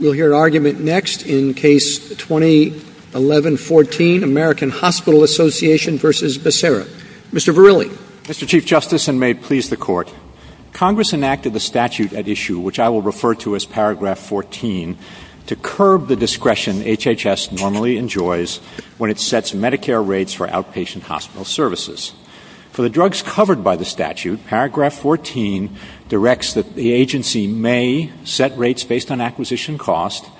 Mr. Verrilli. Mr. Chief Justice, and may it please the Court, Congress enacted the statute at issue, which I will refer to as Paragraph 14, to curb the discretion HHS normally enjoys when it sets Medicare rates for outpatient hospital services. For the drugs covered by the statute, Paragraph 14 directs that the agency may set rates based on acquisition costs, and may not set rates based on acquisition costs.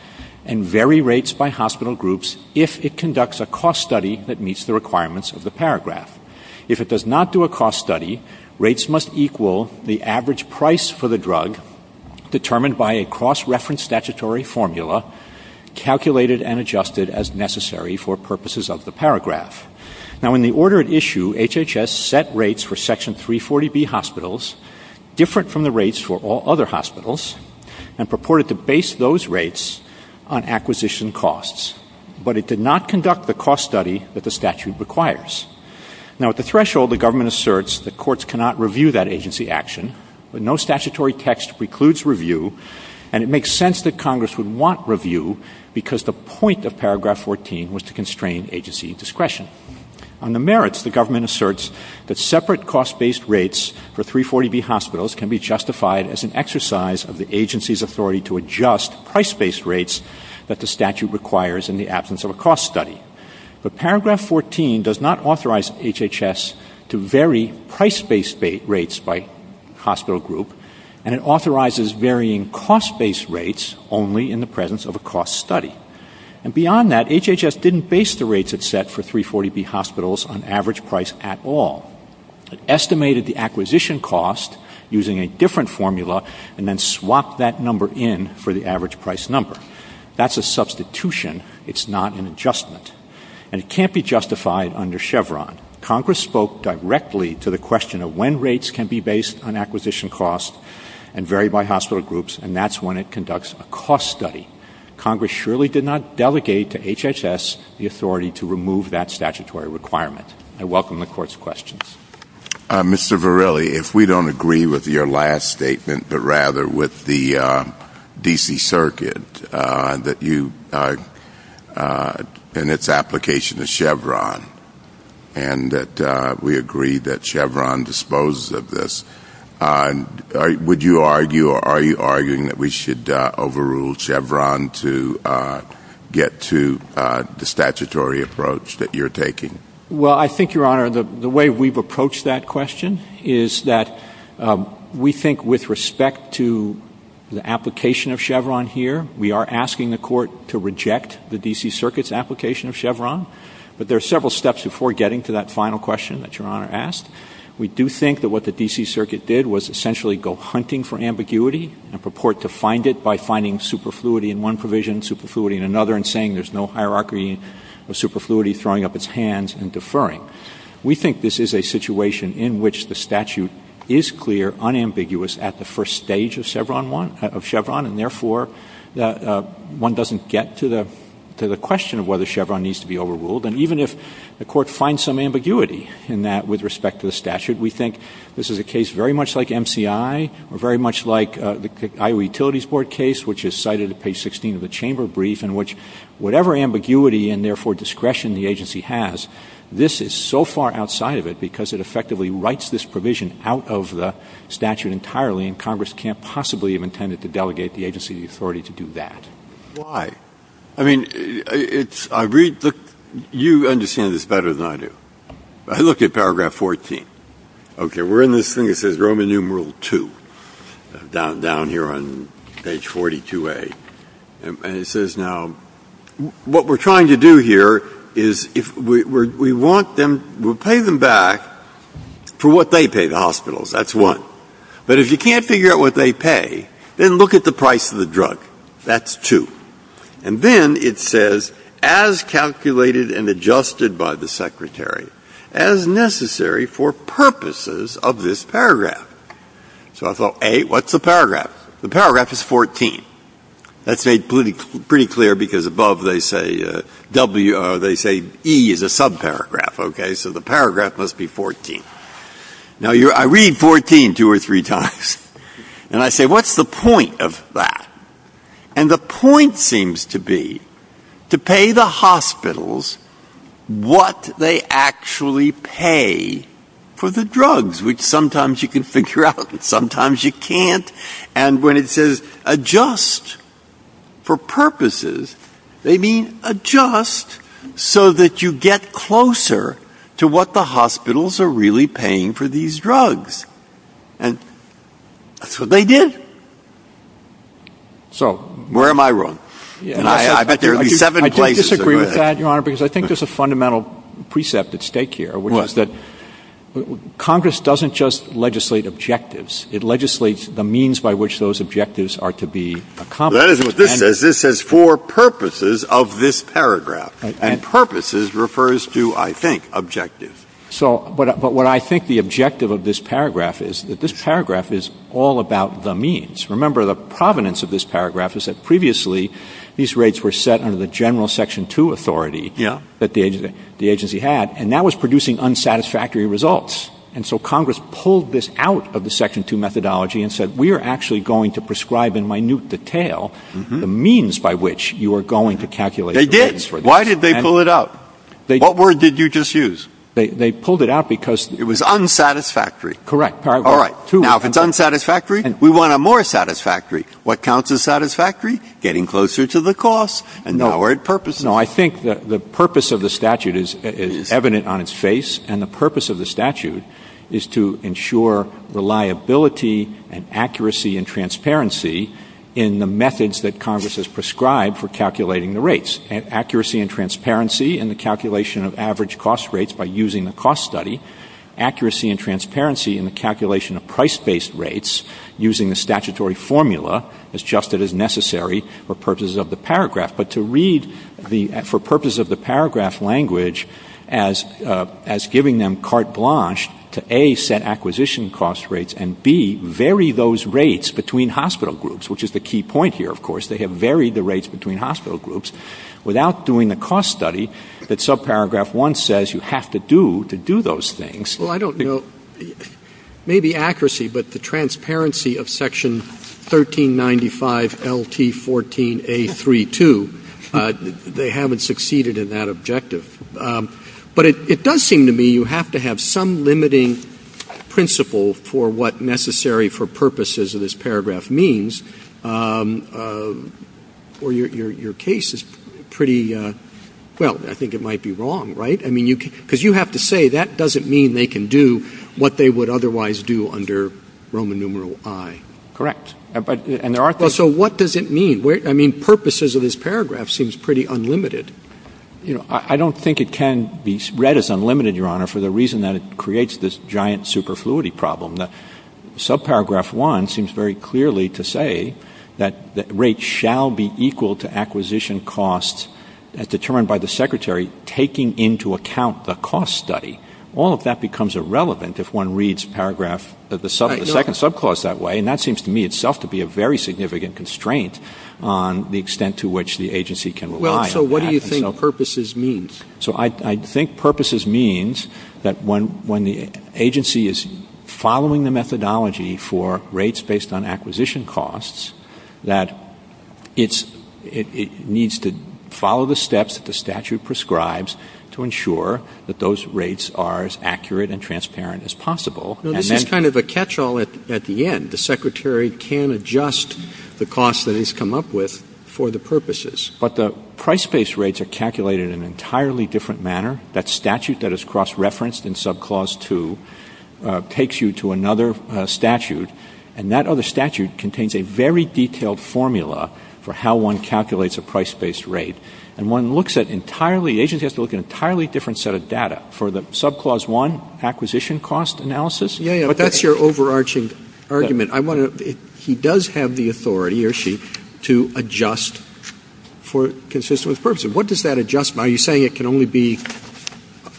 and vary rates by hospital groups if it conducts a cost study that meets the requirements of the paragraph. If it does not do a cost study, rates must equal the average price for the drug, determined by a cross-reference statutory formula, calculated and adjusted as necessary for purposes of the paragraph. Now, in the order at issue, HHS set rates for Section 340B hospitals, different from the rates for all other hospitals, and purported to base those rates on the cost of the drug. But it did not conduct the cost study that the statute requires. Now, at the threshold, the government asserts that courts cannot review that agency action, that no statutory text precludes review, and it makes sense that Congress would want review, because the point of Paragraph 14 was to constrain agency discretion. On the merits, the government asserts that separate cost-based rates for 340B hospitals can be justified as an exercise of the agency's authority to adjust price-based rates that the statute requires in the absence of a cost study. But Paragraph 14 does not authorize HHS to vary price-based rates by hospital group, and it authorizes varying cost-based rates only in the presence of a cost study. And beyond that, HHS didn't base the rates it set for 340B hospitals on average price at all. It estimated the acquisition cost using a different formula, and then swapped that number in for the average price number. That's a substitution. It's not an adjustment. And it can't be justified under Chevron. Congress spoke directly to the question of when rates can be based on acquisition cost and varied by hospital groups, and that's when it conducts a cost study. Congress surely did not delegate to HHS the authority to remove that statutory requirement. I welcome the Court's questions. Mr. Varelli, if we don't agree with your last statement, but rather with the D.C. Circuit, and its application to Chevron, and that we agree that Chevron disposes of this, would you argue or are you arguing that we should overrule Chevron to get to the statutory approach that you're taking? Well, I think, Your Honor, the way we've approached that question is that we think with respect to the application of Chevron to the D.C. Circuit, we are asking the Court to reject the D.C. Circuit's application of Chevron. But there are several steps before getting to that final question that Your Honor asked. We do think that what the D.C. Circuit did was essentially go hunting for ambiguity and purport to find it by finding superfluity in one provision, superfluity in another, and saying there's no hierarchy of superfluity throwing up its hands and deferring. So we think this is a situation in which the statute is clear, unambiguous at the first stage of Chevron, and therefore one doesn't get to the question of whether Chevron needs to be overruled. And even if the Court finds some ambiguity in that with respect to the statute, we think this is a case very much like MCI, or very much like the Iowa Utilities Board case, which is cited at page 16 of the chamber brief, in which whatever ambiguity and therefore discretion the agency has, this is a case in which the Court finds some ambiguity in that with respect to the statute. And so far outside of it, because it effectively writes this provision out of the statute entirely, and Congress can't possibly have intended to delegate the agency authority to do that. Why? I mean, you understand this better than I do. Look at paragraph 14. Okay, we're in this thing that says Roman numeral II down here on page 42A. And it says now, what we're trying to do here is we'll pay them back for what they pay the hospitals, that's one. But if you can't figure out what they pay, then look at the price of the drug. That's two. And then it says, as calculated and adjusted by the Secretary, as necessary for purposes of this paragraph. So I thought, A, what's the paragraph? The paragraph is 14. That's made pretty clear, because above they say E is a subparagraph, okay, so the paragraph must be 14. Now, I read 14 two or three times. And I say, what's the point of that? And the point seems to be to pay the hospitals what they actually pay for the drugs, which sometimes you can figure out and sometimes you can't. And when it says adjust for purposes, they mean adjust so that you get closer to what the hospitals are really paying for these drugs. And so they did. So where am I wrong? I think there's a fundamental precept at stake here, which is that Congress doesn't just legislate objectives. It legislates the means by which those objectives are to be accomplished. This says for purposes of this paragraph. And purposes refers to, I think, objectives. But what I think the objective of this paragraph is that this paragraph is all about the means. Remember, the provenance of this paragraph is that previously these rates were set under the general Section 2 authority that the agency had, and that was producing unsatisfactory results. And so Congress pulled this out of the Section 2 methodology and said, we are actually going to prescribe in minute detail the means by which you are going to calculate the rates. They did. Why did they pull it out? What word did you just use? They pulled it out because it was unsatisfactory. Correct. All right. Now, if it's unsatisfactory, we want a more satisfactory. What counts as satisfactory? Getting closer to the cost and lowered purposes. No, I think the purpose of the statute is evident on its face, and the purpose of the statute is to ensure reliability and accuracy and transparency in the methods that Congress has prescribed for calculating the rates. Accuracy and transparency in the calculation of average cost rates by using the cost study. Accuracy and transparency in the calculation of price-based rates using the statutory formula is just as necessary for purposes of the paragraph. But to read for purposes of the paragraph language as giving them carte blanche to, A, set acquisition cost rates, and, B, vary those rates between hospital groups, which is the key point here, of course. They have varied the rates between hospital groups without doing a cost study that subparagraph one says you have to do to do those things. Well, I don't know. Maybe accuracy, but the transparency of section 1395LT14A32, they haven't succeeded in that objective. But it does seem to me you have to have some limiting principle for what necessary for purposes of this paragraph means, or your case is pretty, well, I think it might be wrong, right? Because you have to say that doesn't mean they can do what they would otherwise do under Roman numeral I. Correct. So what does it mean? I mean, purposes of this paragraph seems pretty unlimited. You know, I don't think it can be read as unlimited, Your Honor, for the reason that it creates this giant superfluity problem. Subparagraph one seems very clearly to say that rates shall be equal to acquisition costs determined by the secretary taking into account the cost study. All of that becomes irrelevant if one reads paragraph of the second subclause that way, and that seems to me itself to be a very significant constraint on the extent to which the agency can align. So what do you think purposes means? So I think purposes means that when the agency is following the methodology for rates based on acquisition costs, that it needs to follow the steps that the statute prescribes to ensure that those rates are as accurate and transparent as possible. This is kind of a catch-all at the end. The secretary can adjust the cost that he's come up with for the purposes. But the price-based rates are calculated in an entirely different manner. That statute that is cross-referenced in subclause two takes you to another statute, and that other statute contains a very detailed formula for how one calculates a price-based rate. And one looks at entirely – the agency has to look at an entirely different set of data. For the subclause one acquisition cost analysis – What does that adjust? Are you saying it can only be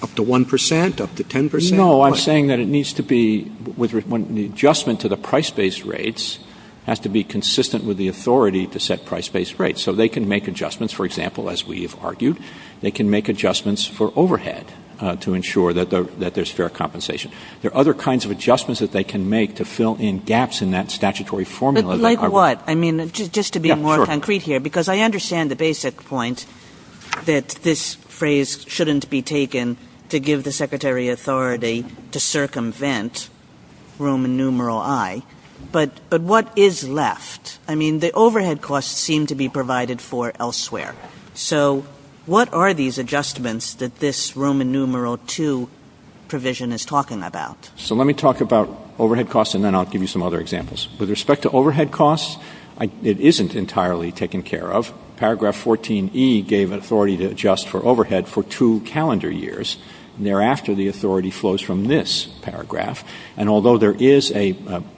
up to 1 percent, up to 10 percent? No, I'm saying that it needs to be – the adjustment to the price-based rates has to be consistent with the authority to set price-based rates. So they can make adjustments, for example, as we have argued. They can make adjustments for overhead to ensure that there's fair compensation. There are other kinds of adjustments that they can make to fill in gaps in that statutory formula. Like what? I mean, just to be more concrete here. Because I understand the basic point that this phrase shouldn't be taken to give the secretary authority to circumvent Roman numeral I. But what is left? I mean, the overhead costs seem to be provided for elsewhere. So what are these adjustments that this Roman numeral II provision is talking about? So let me talk about overhead costs, and then I'll give you some other examples. With respect to overhead costs, it isn't entirely taken care of. Paragraph 14E gave authority to adjust for overhead for two calendar years. Thereafter, the authority flows from this paragraph. And although there is a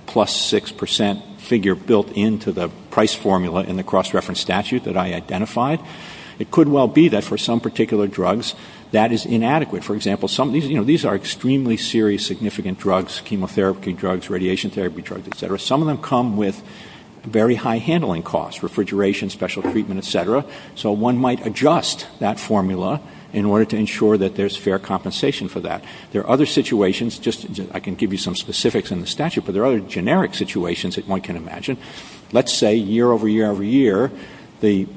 plus 6 percent figure built into the price formula in the cross-reference statute that I identified, it could well be that for some particular drugs that is inadequate. For example, these are extremely serious, significant drugs, chemotherapy drugs, radiation therapy drugs, et cetera. Some of them come with very high handling costs, refrigeration, special treatment, et cetera. So one might adjust that formula in order to ensure that there's fair compensation for that. There are other situations. I can give you some specifics in the statute, but there are other generic situations that one can imagine. Let's say year over year over year, the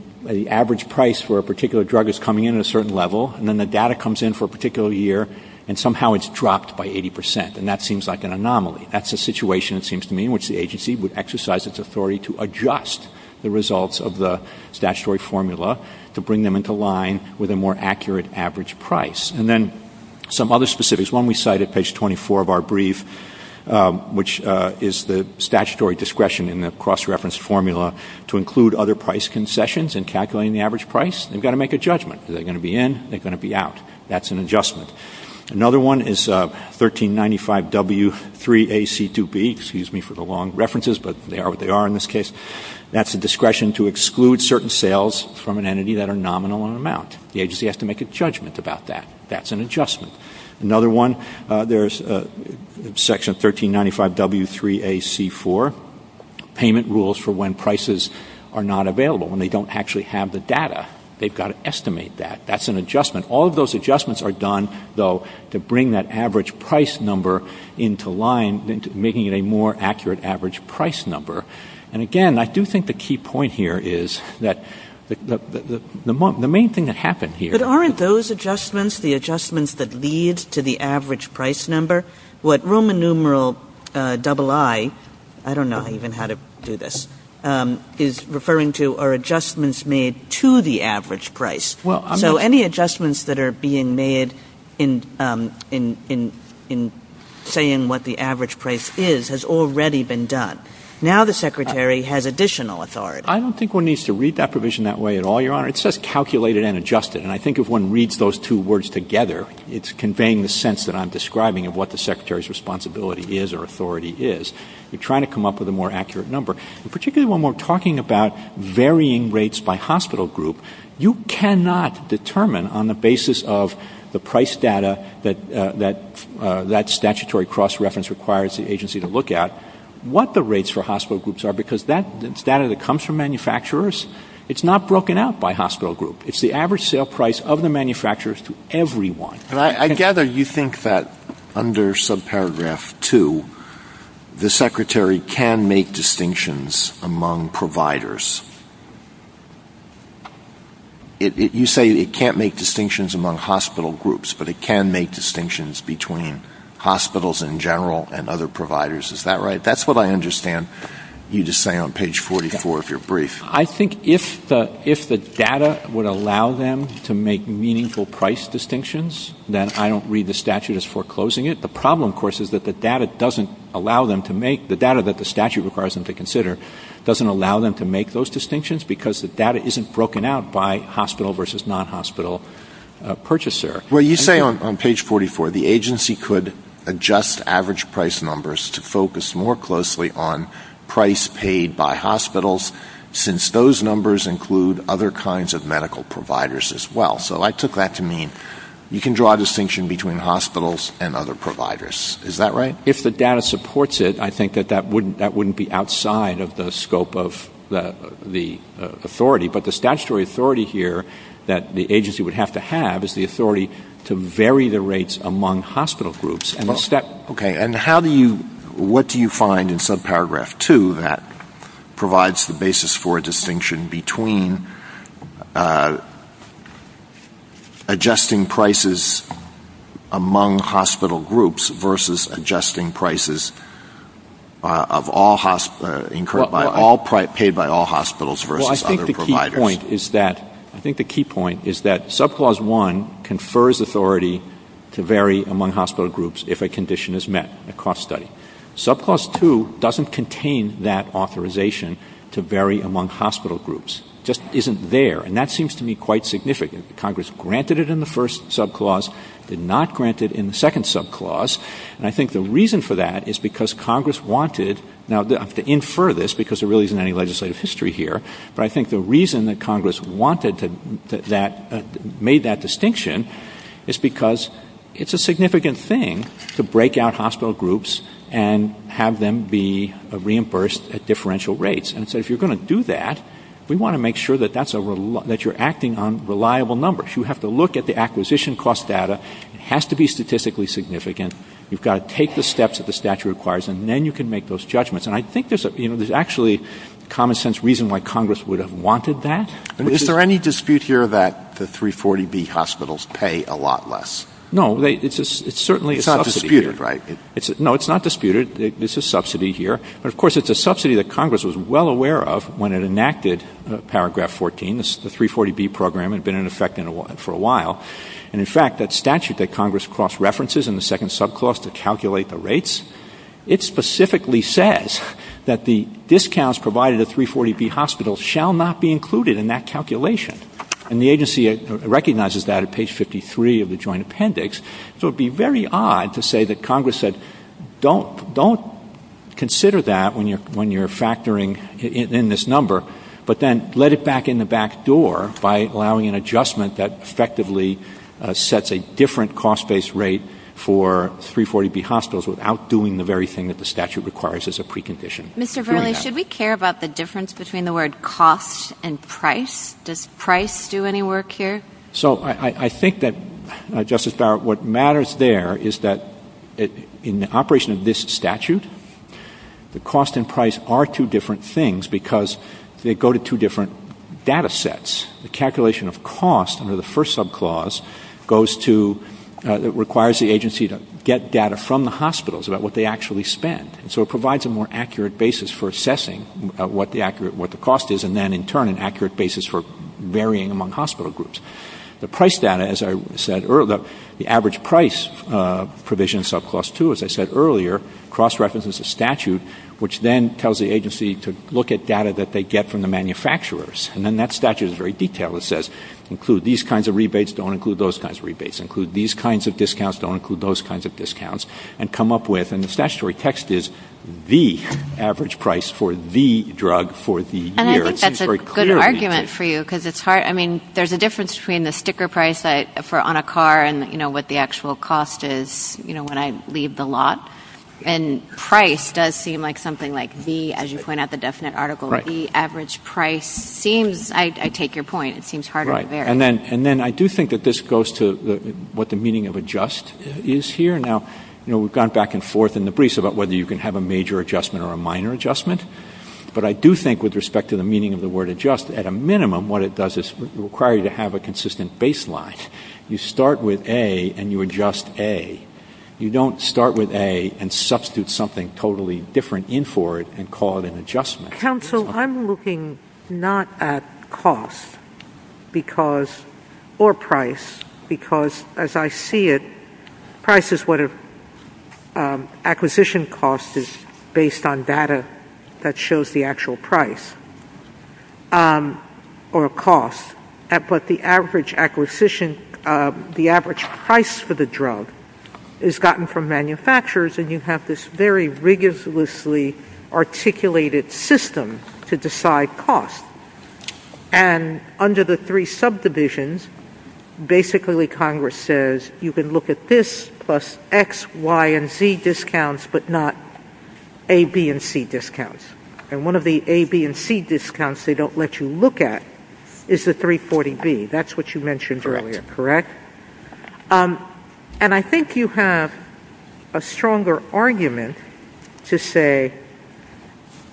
average price for a particular drug is coming in at a certain level, and then the data comes in for a particular year, and somehow it's dropped by 80 percent, and that seems like an anomaly. That's a situation, it seems to me, in which the agency would exercise its authority to adjust the results of the statutory formula to bring them into line with a more accurate average price. And then some other specifics. When we cite at page 24 of our brief, which is the statutory discretion in the cross-reference formula to include other price concessions in calculating the average price, they've got to make a judgment. Are they going to be in? Are they going to be out? That's an adjustment. Another one is 1395W3AC2B, excuse me for the long references, but they are what they are in this case. That's a discretion to exclude certain sales from an entity that are nominal in amount. The agency has to make a judgment about that. That's an adjustment. Another one, there's section 1395W3AC4, payment rules for when prices are not available, when they don't actually have the data. They've got to estimate that. That's an adjustment. All of those adjustments are done, though, to bring that average price number into line, making it a more accurate average price number. And again, I do think the key point here is that the main thing that happened here... But aren't those adjustments the adjustments that lead to the average price number? What Roman numeral II, I don't know even how to do this, is referring to are adjustments made to the average price. So any adjustments that are being made in saying what the average price is has already been done. Now the Secretary has additional authority. I don't think one needs to read that provision that way at all, Your Honor. It says calculated and adjusted, and I think if one reads those two words together, it's conveying the sense that I'm describing of what the Secretary's responsibility is or authority is. You're trying to come up with a more accurate number. And particularly when we're talking about varying rates by hospital group, you cannot determine on the basis of the price data that that statutory cross-reference requires the agency to look at what the rates for hospital groups are because that's data that comes from manufacturers. It's not broken out by hospital group. It's the average sale price of the manufacturers to everyone. And I gather you think that under subparagraph two, the Secretary can make distinctions among providers. You say it can't make distinctions among hospital groups, but it can make distinctions between hospitals in general and other providers. Is that right? That's what I understand you just say on page 44 if you're brief. I think if the data would allow them to make meaningful price distinctions, then I don't read the statute as foreclosing it. The problem, of course, is that the data that the statute requires them to consider doesn't allow them to make those distinctions because the data isn't broken out by hospital versus non-hospital purchaser. Well, you say on page 44 the agency could adjust average price numbers to focus more closely on price paid by hospitals since those numbers include other kinds of medical providers as well. So I took that to mean you can draw a distinction between hospitals and other providers. Is that right? If the data supports it, I think that that wouldn't be outside of the scope of the authority, but the statutory authority here that the agency would have to have is the authority to vary the rates among hospital groups. What do you find in subparagraph 2 that provides the basis for a distinction between adjusting prices among hospital groups versus adjusting prices paid by all hospitals versus other providers? I think the key point is that subclause 1 confers authority to vary among hospital groups if a condition is met, a cost study. Subclause 2 doesn't contain that authorization to vary among hospital groups. It just isn't there, and that seems to me quite significant. Congress granted it in the first subclause, did not grant it in the second subclause, and I think the reason for that is because Congress wanted to infer this because there really isn't any legislative history here, but I think the reason that Congress made that distinction is because it's a significant thing to break out hospital groups and have them be reimbursed at differential rates, and so if you're going to do that, we want to make sure that you're acting on reliable numbers. You have to look at the acquisition cost data. It has to be statistically significant. You've got to take the steps that the statute requires, and then you can make those judgments, and I think there's actually common-sense reason why Congress would have wanted that. Is there any dispute here that the 340B hospitals pay a lot less? No, it's certainly a subsidy. It's not disputed, right? No, it's not disputed. It's a subsidy here, but, of course, it's a subsidy that Congress was well aware of when it enacted Paragraph 14. The 340B program had been in effect for a while, and, in fact, that statute that Congress cross-references in the second subclause to calculate the rates, it specifically says that the discounts provided at 340B hospitals shall not be included in that calculation, and the agency recognizes that at page 53 of the joint appendix, so it would be very odd to say that Congress said, don't consider that when you're factoring in this number, but then let it back in the back door by allowing an adjustment that effectively sets a different cost-based rate for 340B hospitals without doing the very thing that the statute requires as a precondition. Mr. Verli, should we care about the difference between the word cost and price? Does price do any work here? So I think that, Justice Barrett, what matters there is that in the operation of this statute, the cost and price are two different things because they go to two different data sets. The calculation of cost under the first subclause requires the agency to get data from the hospitals about what they actually spent, so it provides a more accurate basis for assessing what the cost is, and then, in turn, an accurate basis for varying among hospital groups. The price data, as I said earlier, the average price provision in subclause 2, as I said earlier, cross-references the statute, which then tells the agency to look at data that they get from the manufacturers, and then that statute is very detailed. It says include these kinds of rebates, don't include those kinds of rebates. Include these kinds of discounts, don't include those kinds of discounts, and come up with, and the statutory text is the average price for the drug for the year. And I think that's a good argument for you because it's hard. I mean, there's a difference between the sticker price for on a car and what the actual cost is when I leave the lot, and price does seem like something like the, as you point out, the definite article, the average price. I take your point. It seems harder to vary. And then I do think that this goes to what the meaning of adjust is here. Now, we've gone back and forth in the briefs about whether you can have a major adjustment or a minor adjustment, but I do think with respect to the meaning of the word adjust, at a minimum, what it does is require you to have a consistent baseline. You start with A and you adjust A. You don't start with A and substitute something totally different in for it and call it an adjustment. Counsel, I'm looking not at cost or price because, as I see it, price is what an acquisition cost is based on data that shows the actual price or cost, but the average acquisition, the average price for the drug is gotten from manufacturers and you have this very rigorously articulated system to decide cost. And under the three subdivisions, basically Congress says, you can look at this plus X, Y, and Z discounts but not A, B, and C discounts. And one of the A, B, and C discounts they don't let you look at is the 340B. That's what you mentioned earlier, correct? And I think you have a stronger argument to say,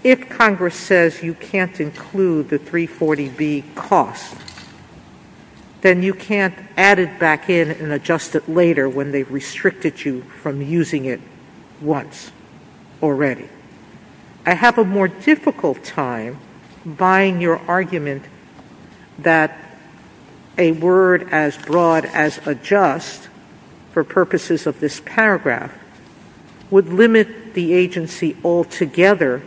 if Congress says you can't include the 340B cost, then you can't add it back in and adjust it later when they've restricted you from using it once already. I have a more difficult time buying your argument that a word as broad as adjust, for purposes of this paragraph, would limit the agency altogether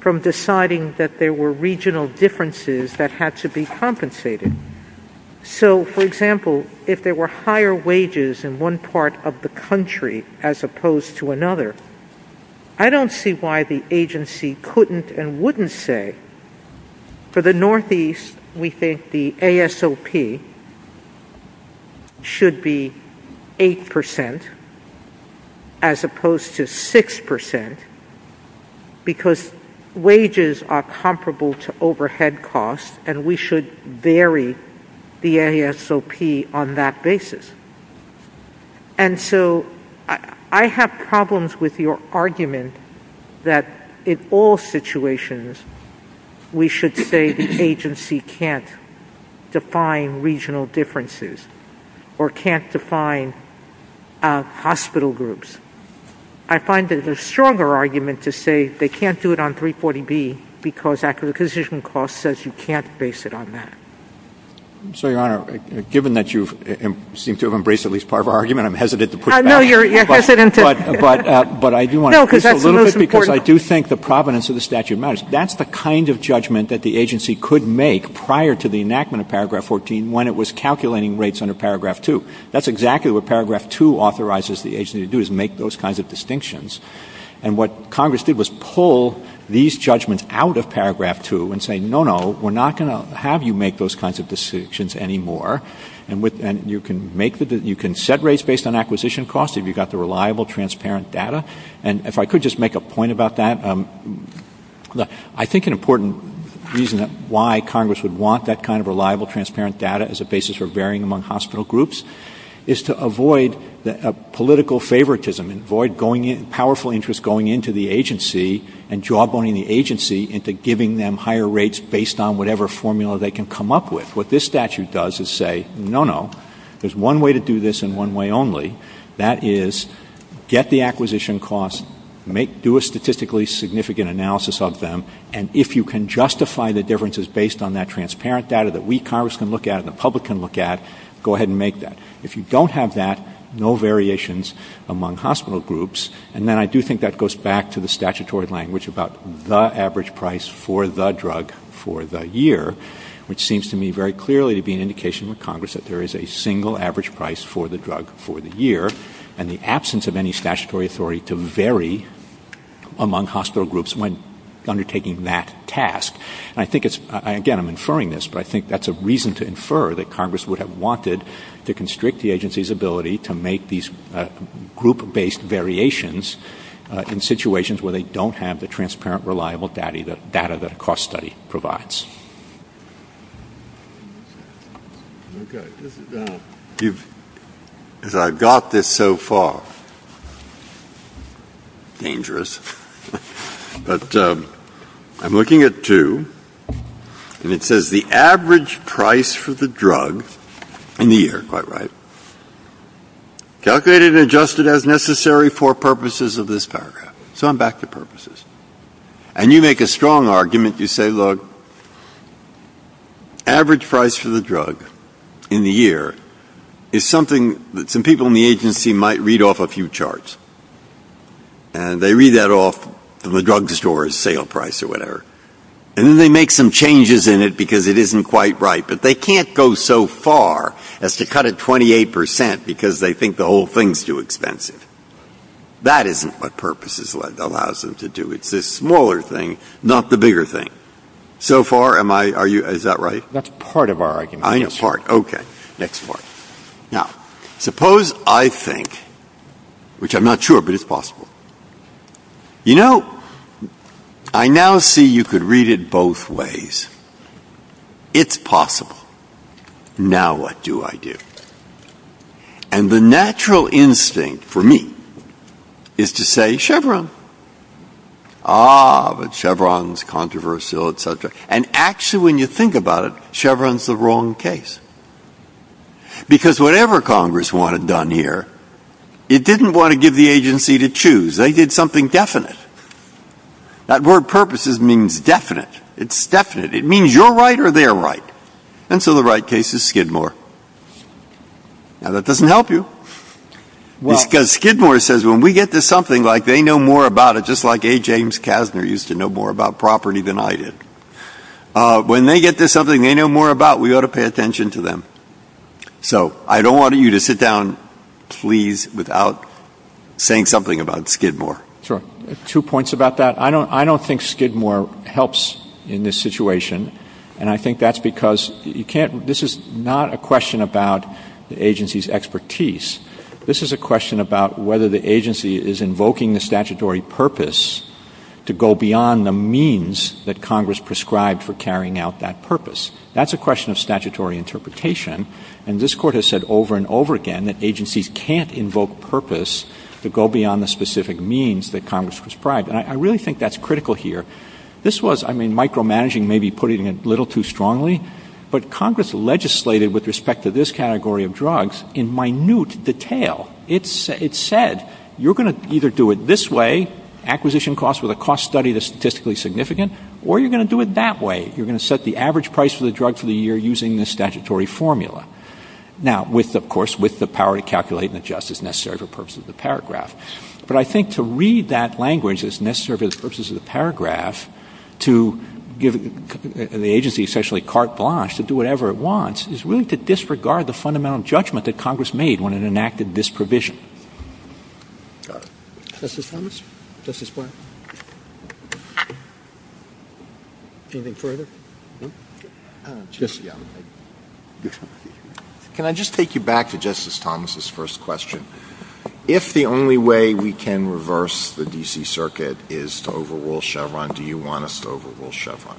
from deciding that there were regional differences that had to be compensated. So, for example, if there were higher wages in one part of the country as opposed to another, I don't see why the agency couldn't and wouldn't say, for the Northeast we think the ASOP should be 8% as opposed to 6% because wages are comparable to overhead costs and we should vary the ASOP on that basis. And so I have problems with your argument that in all situations we should say the agency can't define regional differences or can't define hospital groups. I find there's a stronger argument to say they can't do it on 340B because acquisition cost says you can't base it on that. So, Your Honor, given that you seem to have embraced at least part of our argument, I'm hesitant to put it back. No, you're hesitant. But I do want to increase it a little bit because I do think the provenance of the statute matters. That's the kind of judgment that the agency could make prior to the enactment of Paragraph 14 when it was calculating rates under Paragraph 2. That's exactly what Paragraph 2 authorizes the agency to do is make those kinds of distinctions. And what Congress did was pull these judgments out of Paragraph 2 and say, no, no, we're not going to have you make those kinds of distinctions anymore, and you can set rates based on acquisition costs if you've got the reliable, transparent data. And if I could just make a point about that, I think an important reason why Congress would want that kind of reliable, transparent data as a basis for varying among hospital groups is to avoid political favoritism and avoid powerful interest going into the agency and jawboning the agency into giving them higher rates based on whatever formula they can come up with. What this statute does is say, no, no, there's one way to do this and one way only. That is get the acquisition costs, do a statistically significant analysis of them, and if you can justify the differences based on that transparent data that we, Congress, can look at and the public can look at, go ahead and make that. If you don't have that, no variations among hospital groups. And then I do think that goes back to the statutory language about the average price for the drug for the year, which seems to me very clearly to be an indication of Congress that there is a single average price for the drug for the year, and the absence of any statutory authority to vary among hospital groups when undertaking that task. And I think it's, again, I'm inferring this, but I think that's a reason to infer that Congress would have wanted to constrict the agency's ability to make these group-based variations in situations where they don't have the transparent, reliable data that a cost study provides. I've got this so far. Dangerous. But I'm looking at two, and it says the average price for the drug in the year. Quite right. Calculated and adjusted as necessary for purposes of this paragraph. So I'm back to purposes. And you make a strong argument. You say, look, average price for the drug in the year is something that some people in the agency might read off a few charts, and they read that off from the drug store's sale price or whatever, and then they make some changes in it because it isn't quite right, but they can't go so far as to cut it 28% because they think the whole thing's too expensive. That isn't what purposes allows them to do. It's the smaller thing, not the bigger thing. So far, am I, are you, is that right? That's part of our argument. I know, part. Okay. Next one. Now, suppose I think, which I'm not sure, but it's possible. You know, I now see you could read it both ways. It's possible. Now, what do I do? And the natural instinct for me is to say Chevron. Ah, but Chevron's controversial, etc. And actually, when you think about it, Chevron's the wrong case. Because whatever Congress wanted done here, it didn't want to give the agency to choose. They did something definite. That word purposes means definite. It's definite. It means you're right or they're right. And so the right case is Skidmore. Now, that doesn't help you. Because Skidmore says when we get to something like they know more about it, just like A. James Kasner used to know more about property than I did, when they get to something they know more about, we ought to pay attention to them. So I don't want you to sit down, please, without saying something about Skidmore. Sure. Two points about that. I don't think Skidmore helps in this situation. And I think that's because this is not a question about the agency's expertise. This is a question about whether the agency is invoking the statutory purpose to go beyond the means that Congress prescribed for carrying out that purpose. That's a question of statutory interpretation. And this Court has said over and over again that agencies can't invoke purpose to go beyond the specific means that Congress prescribed. And I really think that's critical here. This was, I mean, micromanaging may be putting it a little too strongly, but Congress legislated with respect to this category of drugs in minute detail. It said, you're going to either do it this way, acquisition costs with a cost study that's statistically significant, or you're going to do it that way. You're going to set the average price for the drug for the year using the statutory formula. Now, of course, with the power to calculate and adjust as necessary for the purpose of the paragraph. But I think to read that language as necessary for the purposes of the paragraph, to give the agency essentially carte blanche to do whatever it wants, Congress is willing to disregard the fundamental judgment that Congress made when it enacted this provision. Justice Thomas? Justice Breyer? Anything further? Can I just take you back to Justice Thomas' first question? If the only way we can reverse the D.C. Circuit is to overrule Chevron, do you want us to overrule Chevron?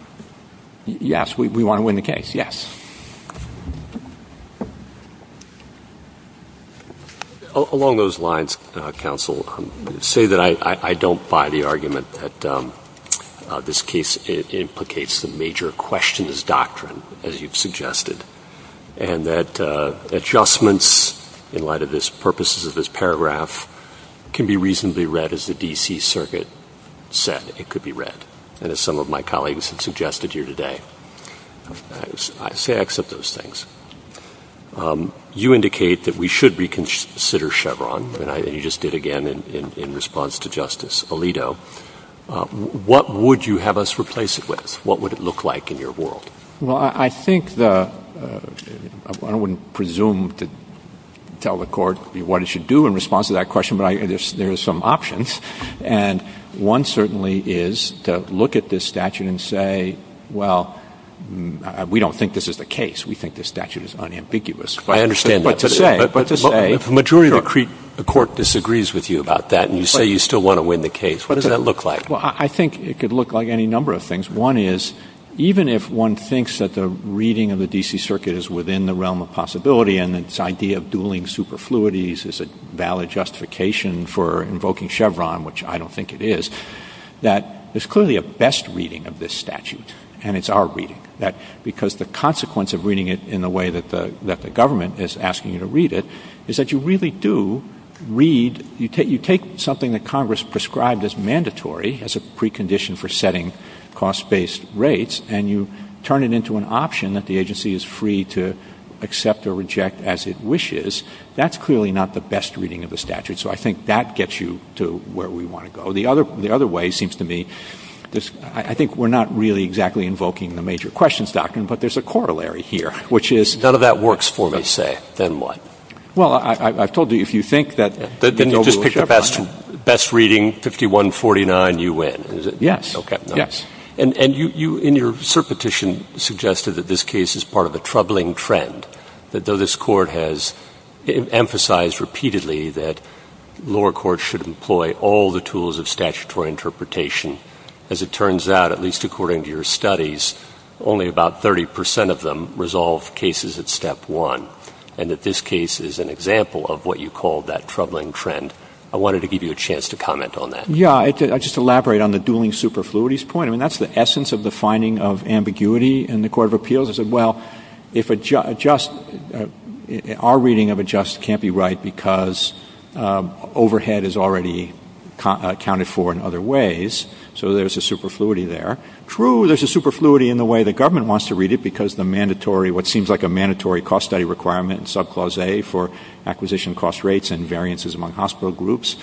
Yes, we want to win the case, yes. Along those lines, counsel, say that I don't buy the argument that this case implicates the major question as doctrine, as you've suggested, and that adjustments in light of the purposes of this paragraph can be reasonably read as the D.C. Circuit said it could be read. And as some of my colleagues have suggested here today, I say I accept those things. You indicate that we should reconsider Chevron, and you just did again in response to Justice Alito. What would you have us replace it with? What would it look like in your world? Well, I think I wouldn't presume to tell the court what it should do in response to that question, but there are some options. And one certainly is to look at this statute and say, well, we don't think this is the case. We think this statute is unambiguous. I understand that, but the majority of the court disagrees with you about that, and you say you still want to win the case. What does that look like? Well, I think it could look like any number of things. One is, even if one thinks that the reading of the D.C. Circuit is within the realm of possibility, and its idea of dueling superfluities is a valid justification for invoking Chevron, which I don't think it is, that there's clearly a best reading of this statute, and it's our reading, because the consequence of reading it in the way that the government is asking you to read it is that you really do read. You take something that Congress prescribed as mandatory as a precondition for setting cost-based rates, and you turn it into an option that the agency is free to accept or reject as it wishes. That's clearly not the best reading of the statute, so I think that gets you to where we want to go. The other way, it seems to me, I think we're not really exactly invoking the major questions doctrine, but there's a corollary here, which is— None of that works for me, say. Then what? Well, I've told you, if you think that— Then you'll just pick the best reading, 51-49, you win, is it? Yes. Okay, nice. And you, in your cert petition, suggested that this case is part of a troubling trend, that though this court has emphasized repeatedly that lower courts should employ all the tools of statutory interpretation, as it turns out, at least according to your studies, only about 30 percent of them resolve cases at step one, and that this case is an example of what you call that troubling trend. I wanted to give you a chance to comment on that. Yeah, I'll just elaborate on the dueling superfluities point. I mean, that's the essence of the finding of ambiguity in the Court of Appeals, is that, well, our reading of adjust can't be right because overhead is already accounted for in other ways, so there's a superfluity there. True, there's a superfluity in the way the government wants to read it, because the mandatory, what seems like a mandatory cost study requirement, subclause A, for acquisition cost rates and variances among hospital groups,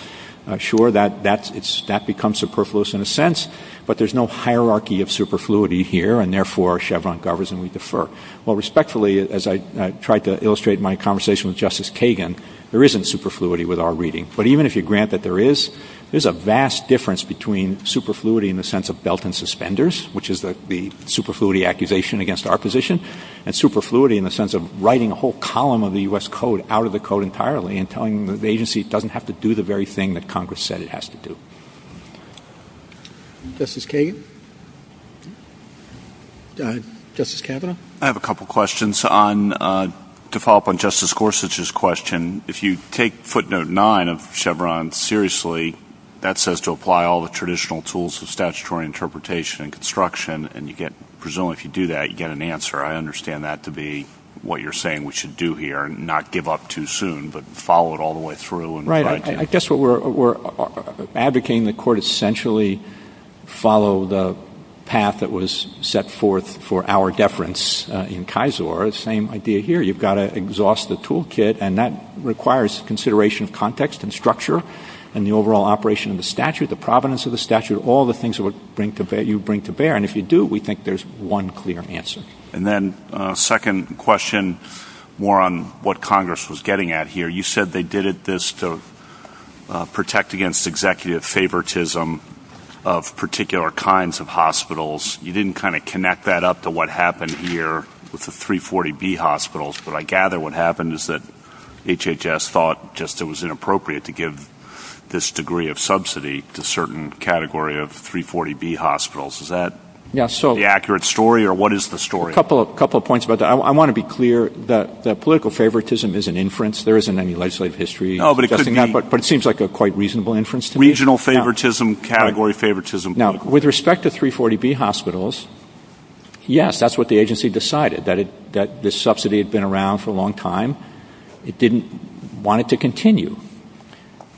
sure, that becomes superfluous in a sense, but there's no hierarchy of superfluity here, and therefore Chevron governs and we defer. Well, respectfully, as I tried to illustrate in my conversation with Justice Kagan, there isn't superfluity with our reading, but even if you grant that there is, there's a vast difference between superfluity in the sense of belt and suspenders, which is the superfluity accusation against our position, and superfluity in the sense of writing a whole column of the U.S. Code out of the Code entirely and telling the agency it doesn't have to do the very thing that Congress said it has to do. Justice Kagan? Justice Kavanaugh? I have a couple questions. To follow up on Justice Gorsuch's question, if you take footnote nine of Chevron seriously, that says to apply all the traditional tools of statutory interpretation and construction, and presumably if you do that, you get an answer. I understand that to be what you're saying we should do here and not give up too soon, but follow it all the way through. Right. I guess what we're advocating in the Court is essentially follow the path that was set forth for our deference in KISOR, the same idea here. You've got to exhaust the toolkit, and that requires consideration of context and structure and the overall operation of the statute, the provenance of the statute, all the things that you bring to bear. And if you do, we think there's one clear answer. And then a second question, more on what Congress was getting at here. You said they did this to protect against executive favoritism of particular kinds of hospitals. You didn't kind of connect that up to what happened here with the 340B hospitals, but I gather what happened is that HHS thought it was inappropriate to give this degree of subsidy to a certain category of 340B hospitals. Is that the accurate story, or what is the story? A couple of points about that. I want to be clear that political favoritism is an inference. There isn't any legislative history. But it seems like a quite reasonable inference to me. Regional favoritism, category favoritism. Now, with respect to 340B hospitals, yes, that's what the agency decided, that this subsidy had been around for a long time. It didn't want it to continue.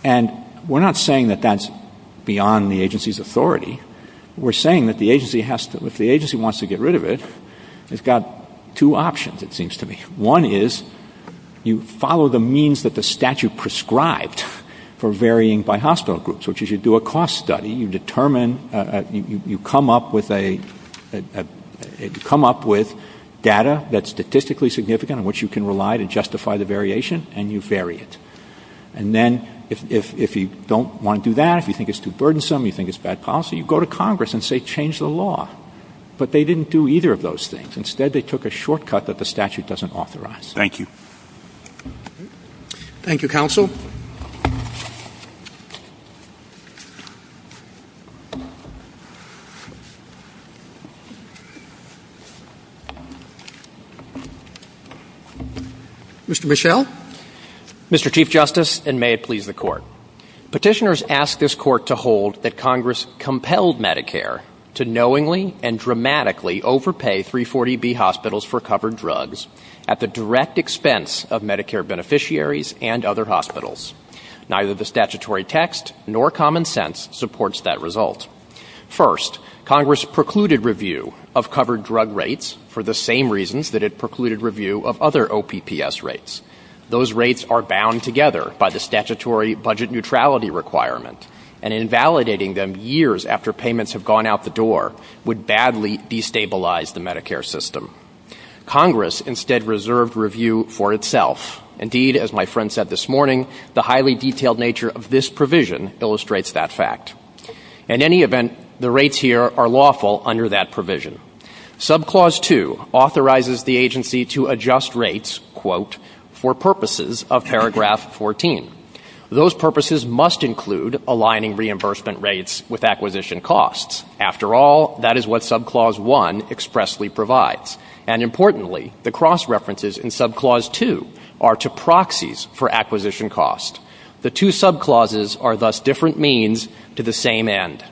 And we're not saying that that's beyond the agency's authority. We're saying that if the agency wants to get rid of it, it's got two options, it seems to me. One is you follow the means that the statute prescribed for varying by hospital groups, which is you do a cost study, you come up with data that's statistically significant in which you can rely to justify the variation, and you vary it. And then if you don't want to do that, you think it's too burdensome, you think it's bad policy, you go to Congress and say change the law. But they didn't do either of those things. Instead, they took a shortcut that the statute doesn't authorize. Thank you. Thank you, Counsel. Mr. Michel. Mr. Chief Justice, and may it please the Court. Petitioners ask this Court to hold that Congress compelled Medicare to knowingly and dramatically overpay 340B hospitals for covered drugs at the direct expense of Medicare beneficiaries and other hospitals. Neither the statutory text nor common sense supports that result. First, Congress precluded review of covered drug rates for the same reasons that it precluded review of other OPPS rates. Those rates are bound together by the statutory budget neutrality requirement, and invalidating them years after payments have gone out the door would badly destabilize the Medicare system. Congress instead reserved review for itself. Indeed, as my friend said this morning, the highly detailed nature of this provision illustrates that fact. In any event, the rates here are lawful under that provision. Subclause 2 authorizes the agency to adjust rates, quote, for purposes of paragraph 14. Those purposes must include aligning reimbursement rates with acquisition costs. After all, that is what Subclause 1 expressly provides. And importantly, the cross-references in Subclause 2 are to proxies for acquisition costs. The two subclauses are thus different means to the same end.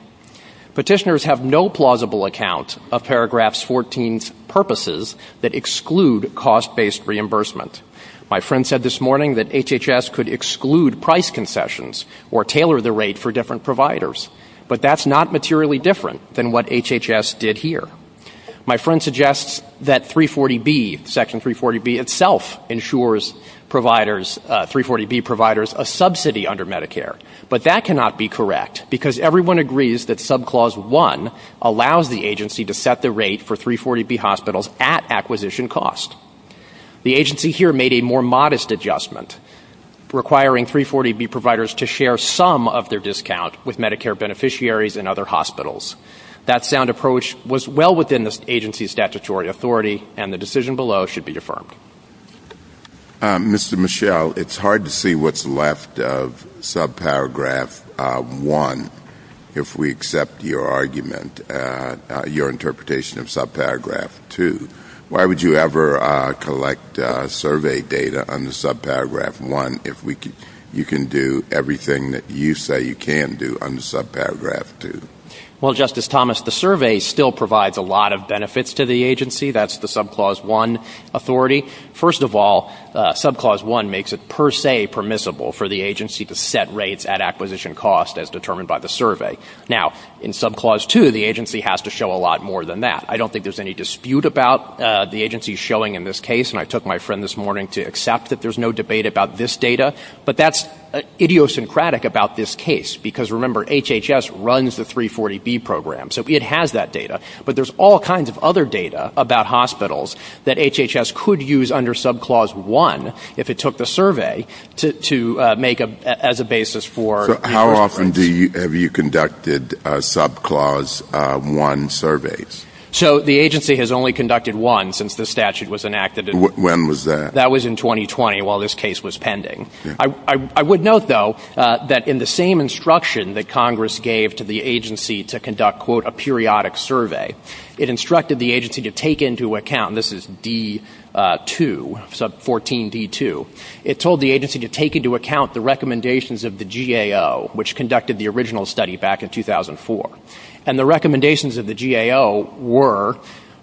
Petitioners have no plausible account of paragraph 14's purposes that exclude cost-based reimbursement. My friend said this morning that HHS could exclude price concessions or tailor the rate for different providers, but that's not materially different than what HHS did here. My friend suggests that 340B, Section 340B itself, ensures 340B providers a subsidy under Medicare. But that cannot be correct, because everyone agrees that Subclause 1 allows the agency to set the rate for 340B hospitals at acquisition costs. The agency here made a more modest adjustment, requiring 340B providers to share some of their discount with Medicare beneficiaries and other hospitals. That sound approach was well within the agency's statutory authority, and the decision below should be affirmed. Mr. Michel, it's hard to see what's left of Subparagraph 1 if we accept your argument, your interpretation of Subparagraph 2. Why would you ever collect survey data under Subparagraph 1 if you can do everything that you say you can do under Subparagraph 2? Well, Justice Thomas, the survey still provides a lot of benefits to the agency. That's the Subclause 1 authority. First of all, Subclause 1 makes it per se permissible for the agency to set rates at acquisition costs as determined by the survey. Now, in Subclause 2, the agency has to show a lot more than that. I don't think there's any dispute about the agency showing in this case, and I took my friend this morning to accept that there's no debate about this data. But that's idiosyncratic about this case, because, remember, HHS runs the 340B program, so it has that data. But there's all kinds of other data about hospitals that HHS could use under Subclause 1 if it took the survey to make as a basis for... So how often have you conducted Subclause 1 surveys? So the agency has only conducted one since the statute was enacted. When was that? That was in 2020 while this case was pending. I would note, though, that in the same instruction that Congress gave to the agency to conduct, quote, a periodic survey, it instructed the agency to take into account, and this is D-2, Sub 14-D-2, it told the agency to take into account the recommendations of the GAO, which conducted the original study back in 2004. And the recommendations of the GAO were,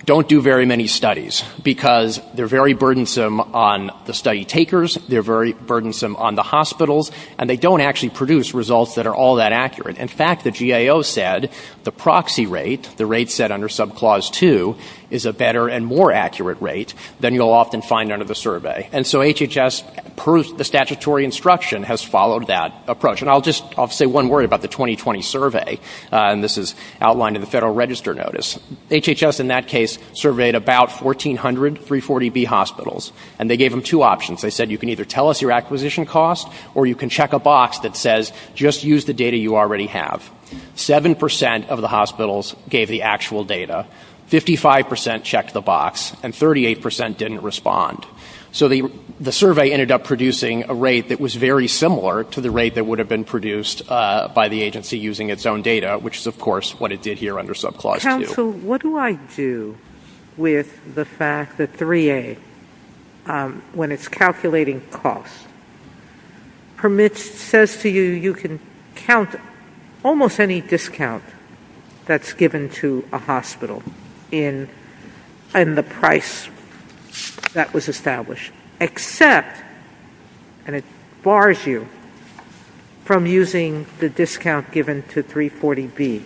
don't do very many studies, because they're very burdensome on the study takers, they're very burdensome on the hospitals, and they don't actually produce results that are all that accurate. In fact, the GAO said the proxy rate, the rate set under Subclause 2, is a better and more accurate rate than you'll often find under the survey. And so HHS, per the statutory instruction, has followed that approach. And I'll just say one word about the 2020 survey, and this is outlined in the Federal Register Notice. HHS, in that case, surveyed about 1,400 340B hospitals, and they gave them two options. They said, you can either tell us your acquisition cost, or you can check a box that says, just use the data you already have. Seven percent of the hospitals gave the actual data. Fifty-five percent checked the box, and 38 percent didn't respond. So the survey ended up producing a rate that was very similar to the rate that would have been produced by the agency using its own data, which is, of course, what it did here under Subclause 2. So what do I do with the fact that 3A, when it's calculating costs, says to you you can count almost any discount that's given to a hospital in the price that was established, except, and it bars you from using the discount given to 340B.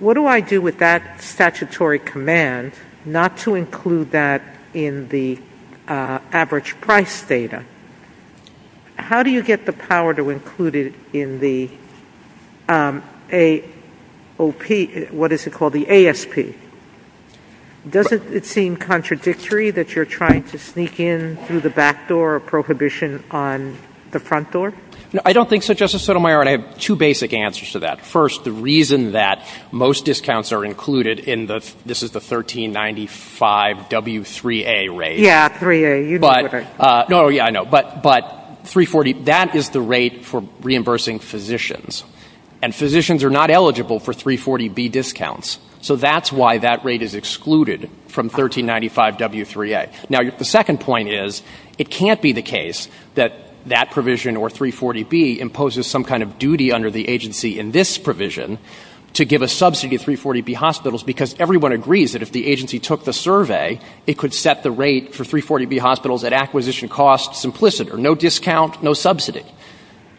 What do I do with that statutory command not to include that in the average price data? How do you get the power to include it in the AOP, what is it called, the ASP? Does it seem contradictory that you're trying to sneak in through the back door or prohibition on the front door? No, I don't think so, Justice Sotomayor, and I have two basic answers to that. First, the reason that most discounts are included in the, this is the 1395W3A rate. Yeah, 3A. No, yeah, I know, but 340, that is the rate for reimbursing physicians, and physicians are not eligible for 340B discounts. So that's why that rate is excluded from 1395W3A. Now, the second point is it can't be the case that that provision, or 340B, imposes some kind of duty under the agency in this provision to give a subsidy to 340B hospitals because everyone agrees that if the agency took the survey, it could set the rate for 340B hospitals at acquisition costs implicit, or no discount, no subsidy.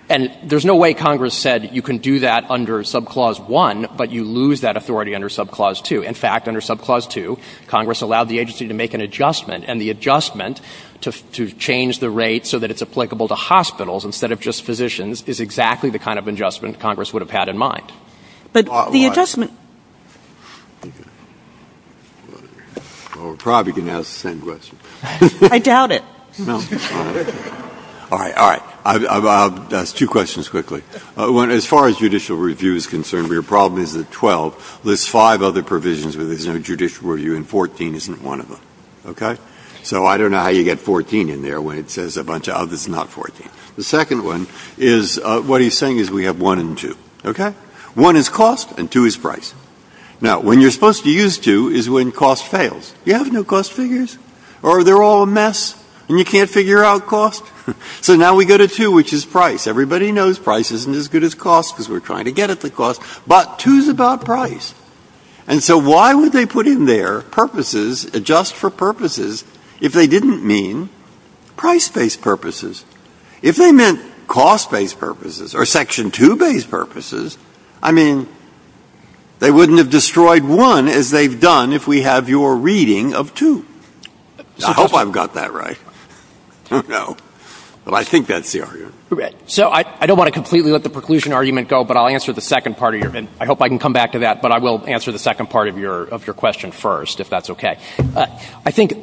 And there's no way Congress said you can do that under Subclause 1, but you lose that authority under Subclause 2. In fact, under Subclause 2, Congress allowed the agency to make an adjustment, and the adjustment to change the rate so that it's applicable to hospitals instead of just physicians is exactly the kind of adjustment Congress would have had in mind. But the adjustment... Well, we're probably going to ask the same question. I doubt it. All right, all right. I'll ask two questions quickly. One, as far as judicial review is concerned, where your problem is there are 12, there's five other provisions where there's no judicial review, and 14 isn't one of them, okay? So I don't know how you get 14 in there when it says a bunch of others, not 14. The second one is what he's saying is we have one and two, okay? One is cost, and two is price. Now, when you're supposed to use two is when cost fails. You have no cost figures, or they're all a mess, and you can't figure out cost. So now we go to two, which is price. Everybody knows price isn't as good as cost because we're trying to get at the cost, but two's about price. And so why would they put in there purposes, adjust for purposes, if they didn't mean price-based purposes? If they meant cost-based purposes or Section 2-based purposes, I mean, they wouldn't have destroyed one as they've done if we have your reading of two. I hope I've got that right. I don't know, but I think that's the argument. So I don't want to completely let the preclusion argument go, but I'll answer the second part of your question. I hope I can come back to that, but I will answer the second part of your question first, if that's okay. I think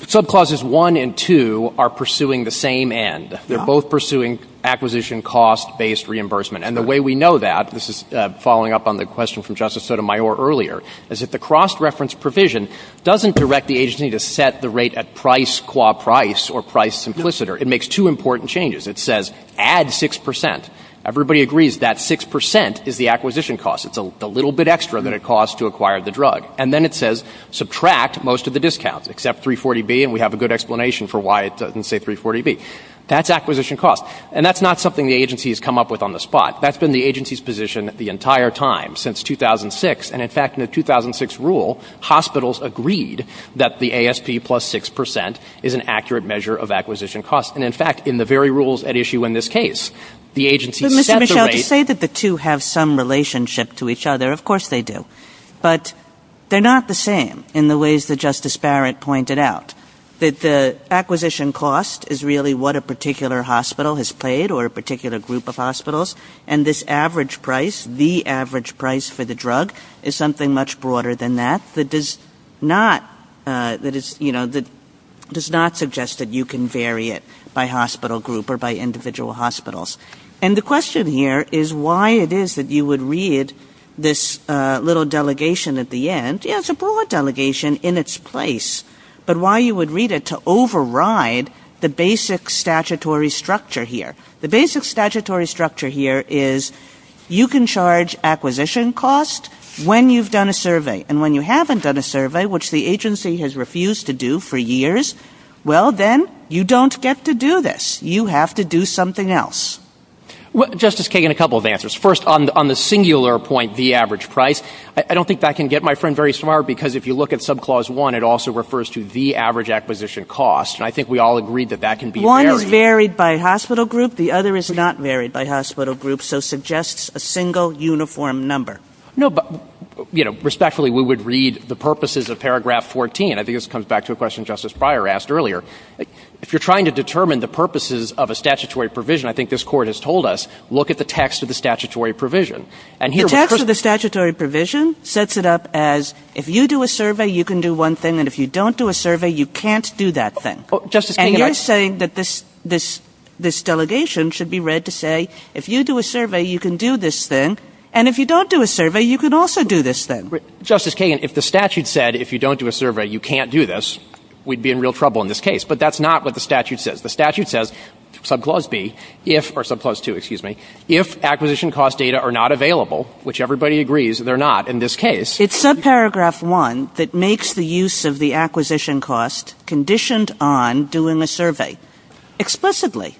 Subclauses 1 and 2 are pursuing the same end. They're both pursuing acquisition cost-based reimbursement. And the way we know that, this is following up on the question from Justice Sotomayor earlier, is that the cross-reference provision doesn't direct the agency to set the rate at price qua price or price simpliciter. It makes two important changes. It says add 6%. Everybody agrees that 6% is the acquisition cost. It's a little bit extra than it costs to acquire the drug. And then it says subtract most of the discounts, except 340B, and we have a good explanation for why it doesn't say 340B. That's acquisition cost. And that's not something the agency has come up with on the spot. That's been the agency's position the entire time, since 2006. And, in fact, in the 2006 rule, hospitals agreed that the ASP plus 6% is an accurate measure of acquisition cost. And, in fact, in the very rules at issue in this case, the agency set the rate... But, Mr. Shaffer, to say that the two have some relationship to each other, of course they do. But they're not the same in the ways that Justice Barrett pointed out, that the acquisition cost is really what a particular hospital has paid or a particular group of hospitals, and this average price, the average price for the drug, is something much broader than that, that does not suggest that you can vary it by hospital group or by individual hospitals. And the question here is why it is that you would read this little delegation at the end. It's a broad delegation in its place, but why you would read it to override the basic statutory structure here. The basic statutory structure here is you can charge acquisition cost when you've done a survey. And when you haven't done a survey, which the agency has refused to do for years, well, then, you don't get to do this. You have to do something else. Justice Kagan, a couple of answers. First, on the singular point, the average price, I don't think that can get my friend very smart because if you look at Subclause 1, it also refers to the average acquisition cost, and I think we all agree that that can be varied. One is varied by hospital group. The other is not varied by hospital group, so suggests a single uniform number. No, but respectfully, we would read the purposes of Paragraph 14. I think this comes back to a question Justice Breyer asked earlier. If you're trying to determine the purposes of a statutory provision, I think this Court has told us, look at the text of the statutory provision. The text of the statutory provision sets it up as if you do a survey, you can do one thing, and if you don't do a survey, you can't do that thing. And you're saying that this delegation should be read to say if you do a survey, you can do this thing, and if you don't do a survey, you can also do this thing. Justice Kagan, if the statute said if you don't do a survey, you can't do this, we'd be in real trouble in this case. But that's not what the statute says. The statute says, subclause 2, if acquisition cost data are not available, which everybody agrees they're not in this case. It's subparagraph 1 that makes the use of the acquisition cost conditioned on doing the survey. Explicitly.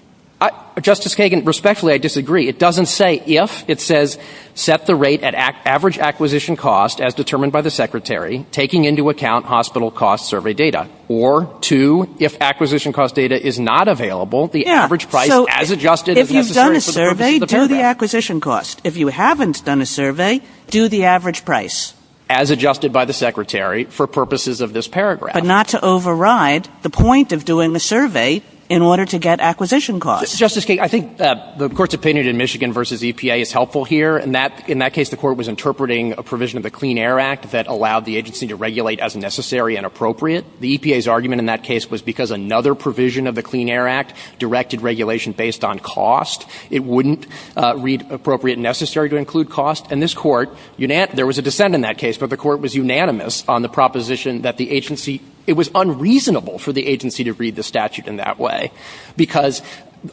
Justice Kagan, respectfully, I disagree. It doesn't say if. It says set the rate at average acquisition cost as determined by the Secretary, taking into account hospital cost survey data. Or, 2, if acquisition cost data is not available, the average price as adjusted... If you've done a survey, do the acquisition cost. If you haven't done a survey, do the average price. As adjusted by the Secretary for purposes of this paragraph. But not to override the point of doing the survey in order to get acquisition cost. Justice Kagan, I think the Court's opinion in Michigan versus EPA is helpful here. In that case, the Court was interpreting a provision of the Clean Air Act that allowed the agency to regulate as necessary and appropriate. The EPA's argument in that case was because another provision of the Clean Air Act directed regulation based on cost. It wouldn't read appropriate and necessary to include cost. And this Court... There was a dissent in that case, but the Court was unanimous on the proposition that the agency... It was unreasonable for the agency to read the statute in that way. Because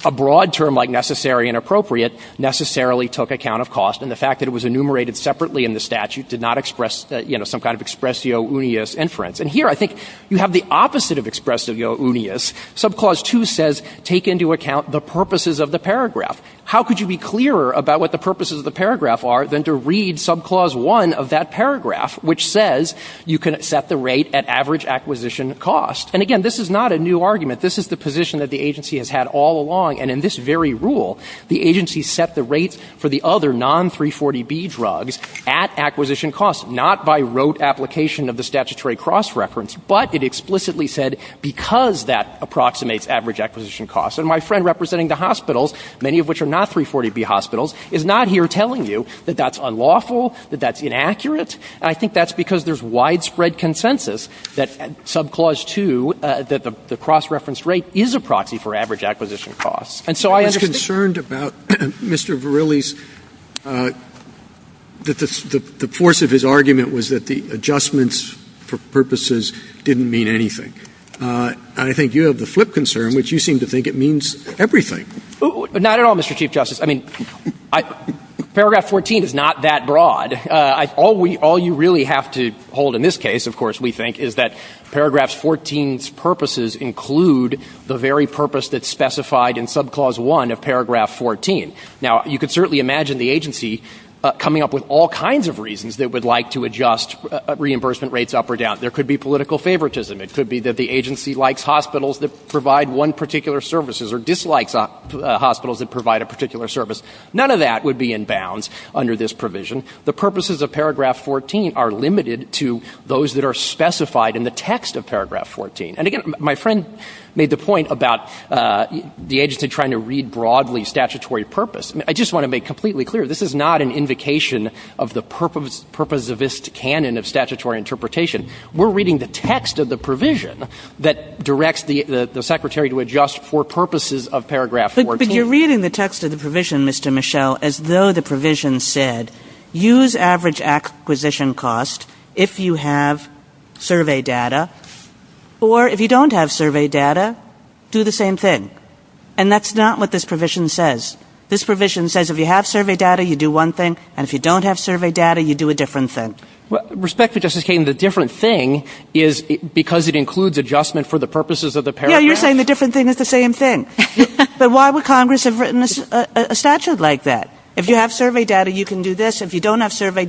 a broad term like necessary and appropriate necessarily took account of cost. And the fact that it was enumerated separately in the statute did not express some kind of expressio unius inference. And here I think you have the opposite of expressio unius. Subclause 2 says, take into account the purposes of the paragraph. How could you be clearer about what the purposes of the paragraph are than to read subclause 1 of that paragraph, which says you can set the rate at average acquisition cost? And again, this is not a new argument. This is the position that the agency has had all along. And in this very rule, the agency set the rate for the other non-340B drugs at acquisition cost, not by rote application of the statutory cross-reference, but it explicitly said because that approximates average acquisition cost. And my friend representing the hospitals, many of which are not 340B hospitals, is not here telling you that that's unlawful, that that's inaccurate. I think that's because there's widespread consensus that subclause 2, that the cross-referenced rate is a proxy for average acquisition cost. I was concerned about Mr. Verrilli's... ..that the force of his argument was that the adjustments for purposes didn't mean anything. I think you have the flip concern, which you seem to think it means everything. Not at all, Mr. Chief Justice. I mean, paragraph 14 is not that broad. All you really have to hold in this case, of course, we think, is that paragraph 14's purposes include the very purpose that's specified in subclause 1 of paragraph 14. Now, you can certainly imagine the agency coming up with all kinds of reasons that it would like to adjust reimbursement rates up or down. There could be political favouritism. It could be that the agency likes hospitals that provide one particular service or dislikes hospitals that provide a particular service. None of that would be in bounds under this provision. The purposes of paragraph 14 are limited to those that are specified in the text of paragraph 14. And again, my friend made the point about the agency trying to read broadly statutory purpose. I just want to make completely clear, this is not an invocation of the purposivist canon of statutory interpretation. We're reading the text of the provision that directs the secretary to adjust for purposes of paragraph 14. But you're reading the text of the provision, Mr. Michel, as though the provision said, use average acquisition cost if you have survey data, or if you don't have survey data, do the same thing. And that's not what this provision says. This provision says if you have survey data, you do one thing, and if you don't have survey data, you do a different thing. Respectfully, Justice Kagan, the different thing is because it includes adjustment for the purposes of the paragraph. Yeah, you're saying the different thing is the same thing. But why would Congress have written a statute like that? If you have survey data, you can do this. If you don't have survey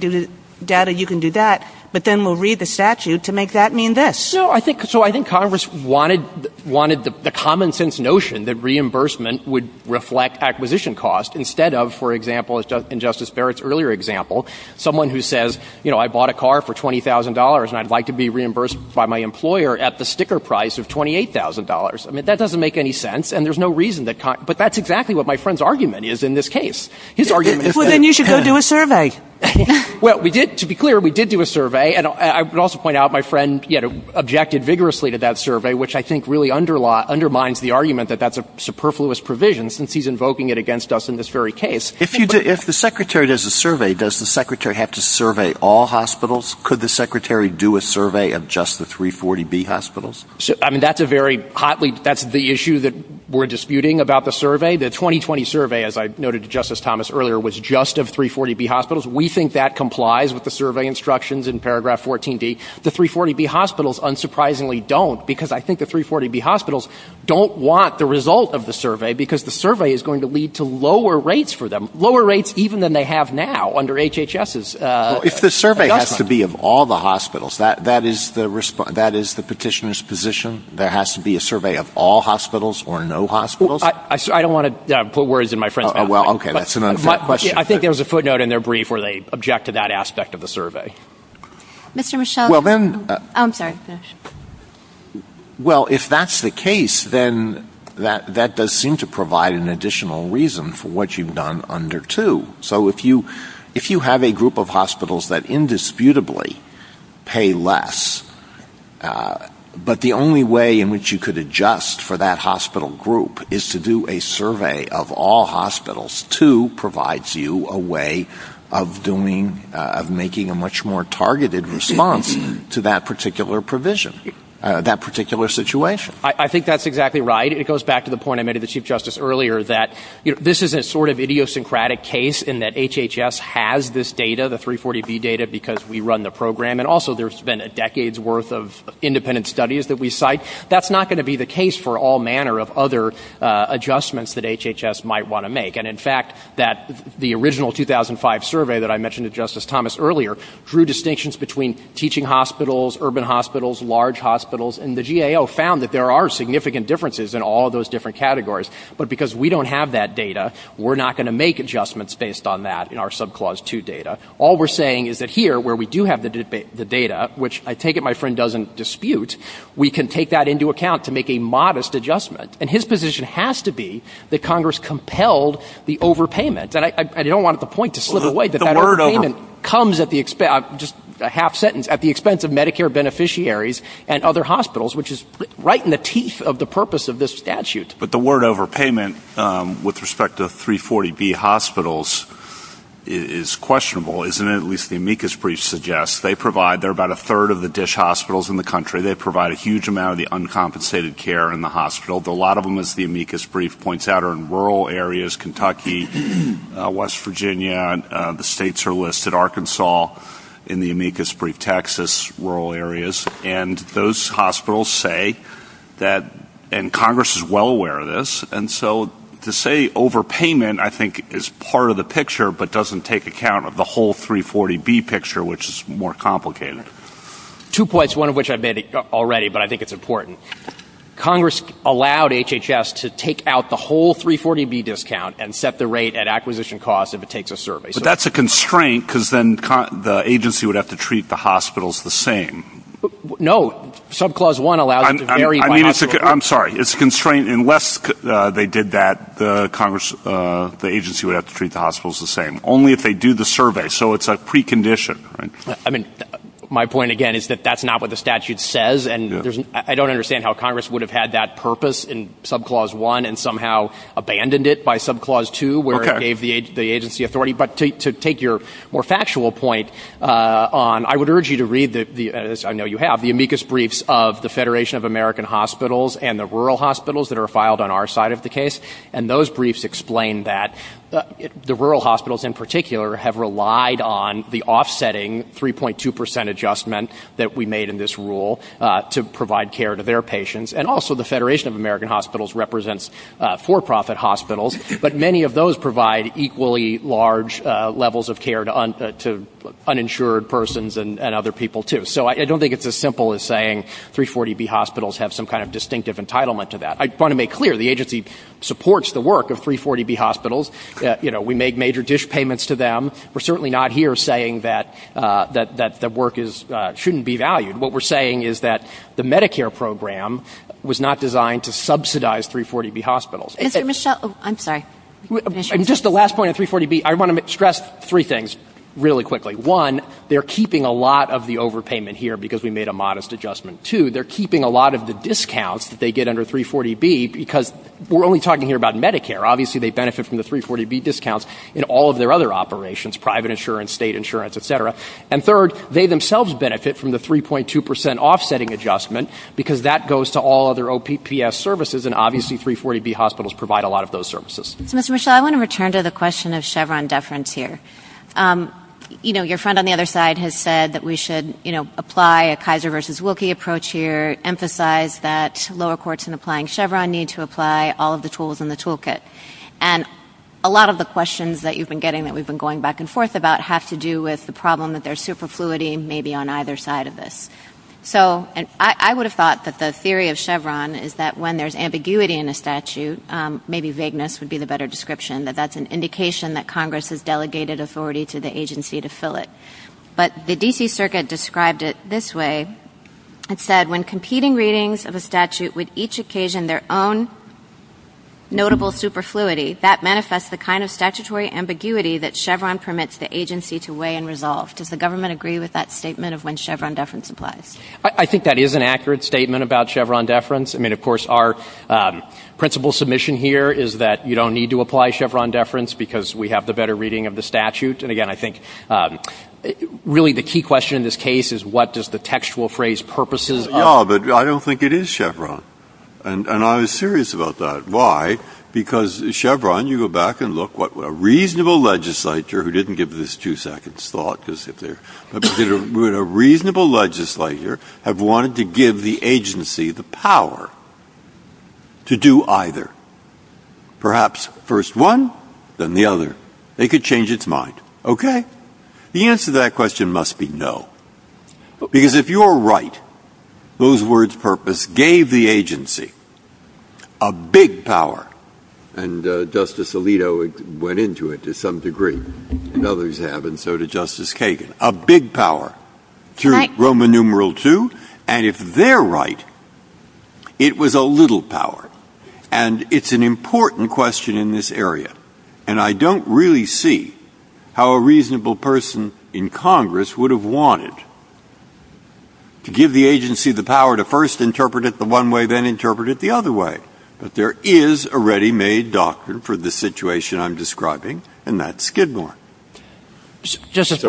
data, you can do that. But then we'll read the statute to make that mean this. No, I think Congress wanted the common-sense notion that reimbursement would reflect acquisition cost instead of, for example, in Justice Barrett's earlier example, someone who says, you know, I bought a car for $20,000 and I'd like to be reimbursed by my employer at the sticker price of $28,000. I mean, that doesn't make any sense, and there's no reason that Congress... But that's exactly what my friend's argument is in this case. Well, then you should go do a survey. Well, to be clear, we did do a survey, and I would also point out my friend objected vigorously to that survey, which I think really undermines the argument that that's a superfluous provision since he's invoking it against us in this very case. If the secretary does a survey, does the secretary have to survey all hospitals? Could the secretary do a survey of just the 340B hospitals? I mean, that's a very hotly... The 2020 survey, as I noted to Justice Thomas earlier, was just of 340B hospitals. We think that complies with the survey instructions in paragraph 14b. The 340B hospitals unsurprisingly don't because I think the 340B hospitals don't want the result of the survey because the survey is going to lead to lower rates for them, lower rates even than they have now under HHS's... Well, if the survey has to be of all the hospitals, that is the petitioner's position? There has to be a survey of all hospitals or no hospitals? I don't want to put words in my friend's mouth. Oh, well, okay, that's another question. I think there was a footnote in their brief where they objected to that aspect of the survey. Mr. Michel? I'm sorry. Well, if that's the case, then that does seem to provide an additional reason for what you've done under 2. So if you have a group of hospitals that indisputably pay less, but the only way in which you could adjust for that hospital group is to do a survey of all hospitals to provide you a way of doing... of making a much more targeted response to that particular provision, that particular situation. I think that's exactly right. It goes back to the point I made to the Chief Justice earlier that this is a sort of idiosyncratic case in that HHS has this data, the 340B data, because we run the program, and also there's been a decade's worth of independent studies that we cite. That's not going to be the case for all manner of other adjustments that HHS might want to make. And in fact, the original 2005 survey that I mentioned to Justice Thomas earlier drew distinctions between teaching hospitals, urban hospitals, large hospitals, and the GAO found that there are significant differences in all those different categories. But because we don't have that data, we're not going to make adjustments based on that in our Subclause 2 data. All we're saying is that here, where we do have the data, which I take it my friend doesn't dispute, we can take that into account to make a modest adjustment. And his position has to be that Congress compelled the overpayment. And I don't want the point to slip away that that overpayment comes at the expense, just a half sentence, at the expense of Medicare beneficiaries and other hospitals, which is right in the teeth of the purpose of this statute. But the word overpayment, with respect to 340B hospitals, is questionable, isn't it? At least the amicus brief suggests. They provide, they're about a third of the dish hospitals in the country, they provide a huge amount of the uncompensated care in the hospital. But a lot of them, as the amicus brief points out, are in rural areas, Kentucky, West Virginia, the states are listed, Arkansas, in the amicus brief, Texas, rural areas. And those hospitals say that, and Congress is well aware of this, and so to say overpayment I think is part of the picture but doesn't take account of the whole 340B picture, which is more complicated. Two points, one of which I've made already, but I think it's important. Congress allowed HHS to take out the whole 340B discount and set the rate at acquisition costs if it takes a survey. But that's a constraint, because then the agency would have to treat the hospitals the same. No, subclause one allows... I'm sorry, it's a constraint. Unless they did that, the agency would have to treat the hospitals the same, only if they do the survey. So it's a precondition. My point again is that that's not what the statute says, and I don't understand how Congress would have had that purpose in subclause one and somehow abandoned it by subclause two, where it gave the agency authority. But to take your more factual point, I would urge you to read, as I know you have, the amicus briefs of the Federation of American Hospitals and the rural hospitals that are filed on our side of the case, and those briefs explain that the rural hospitals, in particular, have relied on the offsetting 3.2% adjustment that we made in this rule to provide care to their patients. And also the Federation of American Hospitals represents for-profit hospitals, but many of those provide equally large levels of care to uninsured persons and other people, too. So I don't think it's as simple as saying 340B hospitals have some kind of distinctive entitlement to that. I want to make clear, the agency supports the work of 340B hospitals. You know, we make major dish payments to them. We're certainly not here saying that the work shouldn't be valued. What we're saying is that the Medicare program was not designed to subsidize 340B hospitals. And just the last point on 340B, I want to stress three things really quickly. One, they're keeping a lot of the overpayment here because we made a modest adjustment. Two, they're keeping a lot of the discounts that they get under 340B because we're only talking here about Medicare. Obviously, they benefit from the 340B discounts in all of their other operations, private insurance, state insurance, et cetera. And third, they themselves benefit from the 3.2% offsetting adjustment because that goes to all of their OPPS services, and obviously 340B hospitals provide a lot of those services. Mr. Rochelle, I want to return to the question of Chevron deference here. You know, your friend on the other side has said that we should, you know, apply a Kaiser versus Wilkie approach here, emphasize that lower courts in applying Chevron need to apply all of the tools in the toolkit. And a lot of the questions that you've been getting that we've been going back and forth about have to do with the problem that there's superfluity maybe on either side of this. So I would have thought that the theory of Chevron is that when there's ambiguity in a statute, maybe vagueness would be the better description, that that's an indication that Congress has delegated authority to the agency to fill it. But the D.C. Circuit described it this way. It said, when competing readings of a statute with each occasion their own notable superfluity, that manifests the kind of statutory ambiguity that Chevron permits the agency to weigh and resolve. Does the government agree with that statement of when Chevron deference applies? I think that is an accurate statement about Chevron deference. I mean, of course, our principal submission here is that you don't need to apply Chevron deference because we have the better reading of the statute. And again, I think really the key question in this case is what does the textual phrase purposes? Oh, but I don't think it is Chevron. And I was serious about that. Why? Because Chevron, you go back and look, what would a reasonable legislator, who didn't give this two seconds thought, would a reasonable legislator have wanted to give the agency the power to do either? Perhaps first one, then the other. It could change its mind. Okay? The answer to that question must be no. Because if you're right, those words, purpose, gave the agency a big power, and Justice Alito went into it to some degree, and others have, and so did Justice Kagan, a big power, Roman numeral two. And if they're right, it was a little power. And it's an important question in this area. And I don't really see how a reasonable person in Congress would have wanted to give the agency the power to first interpret it the one way, then interpret it the other way. But there is a ready-made doctrine for the situation I'm describing, and that's Skidmore. So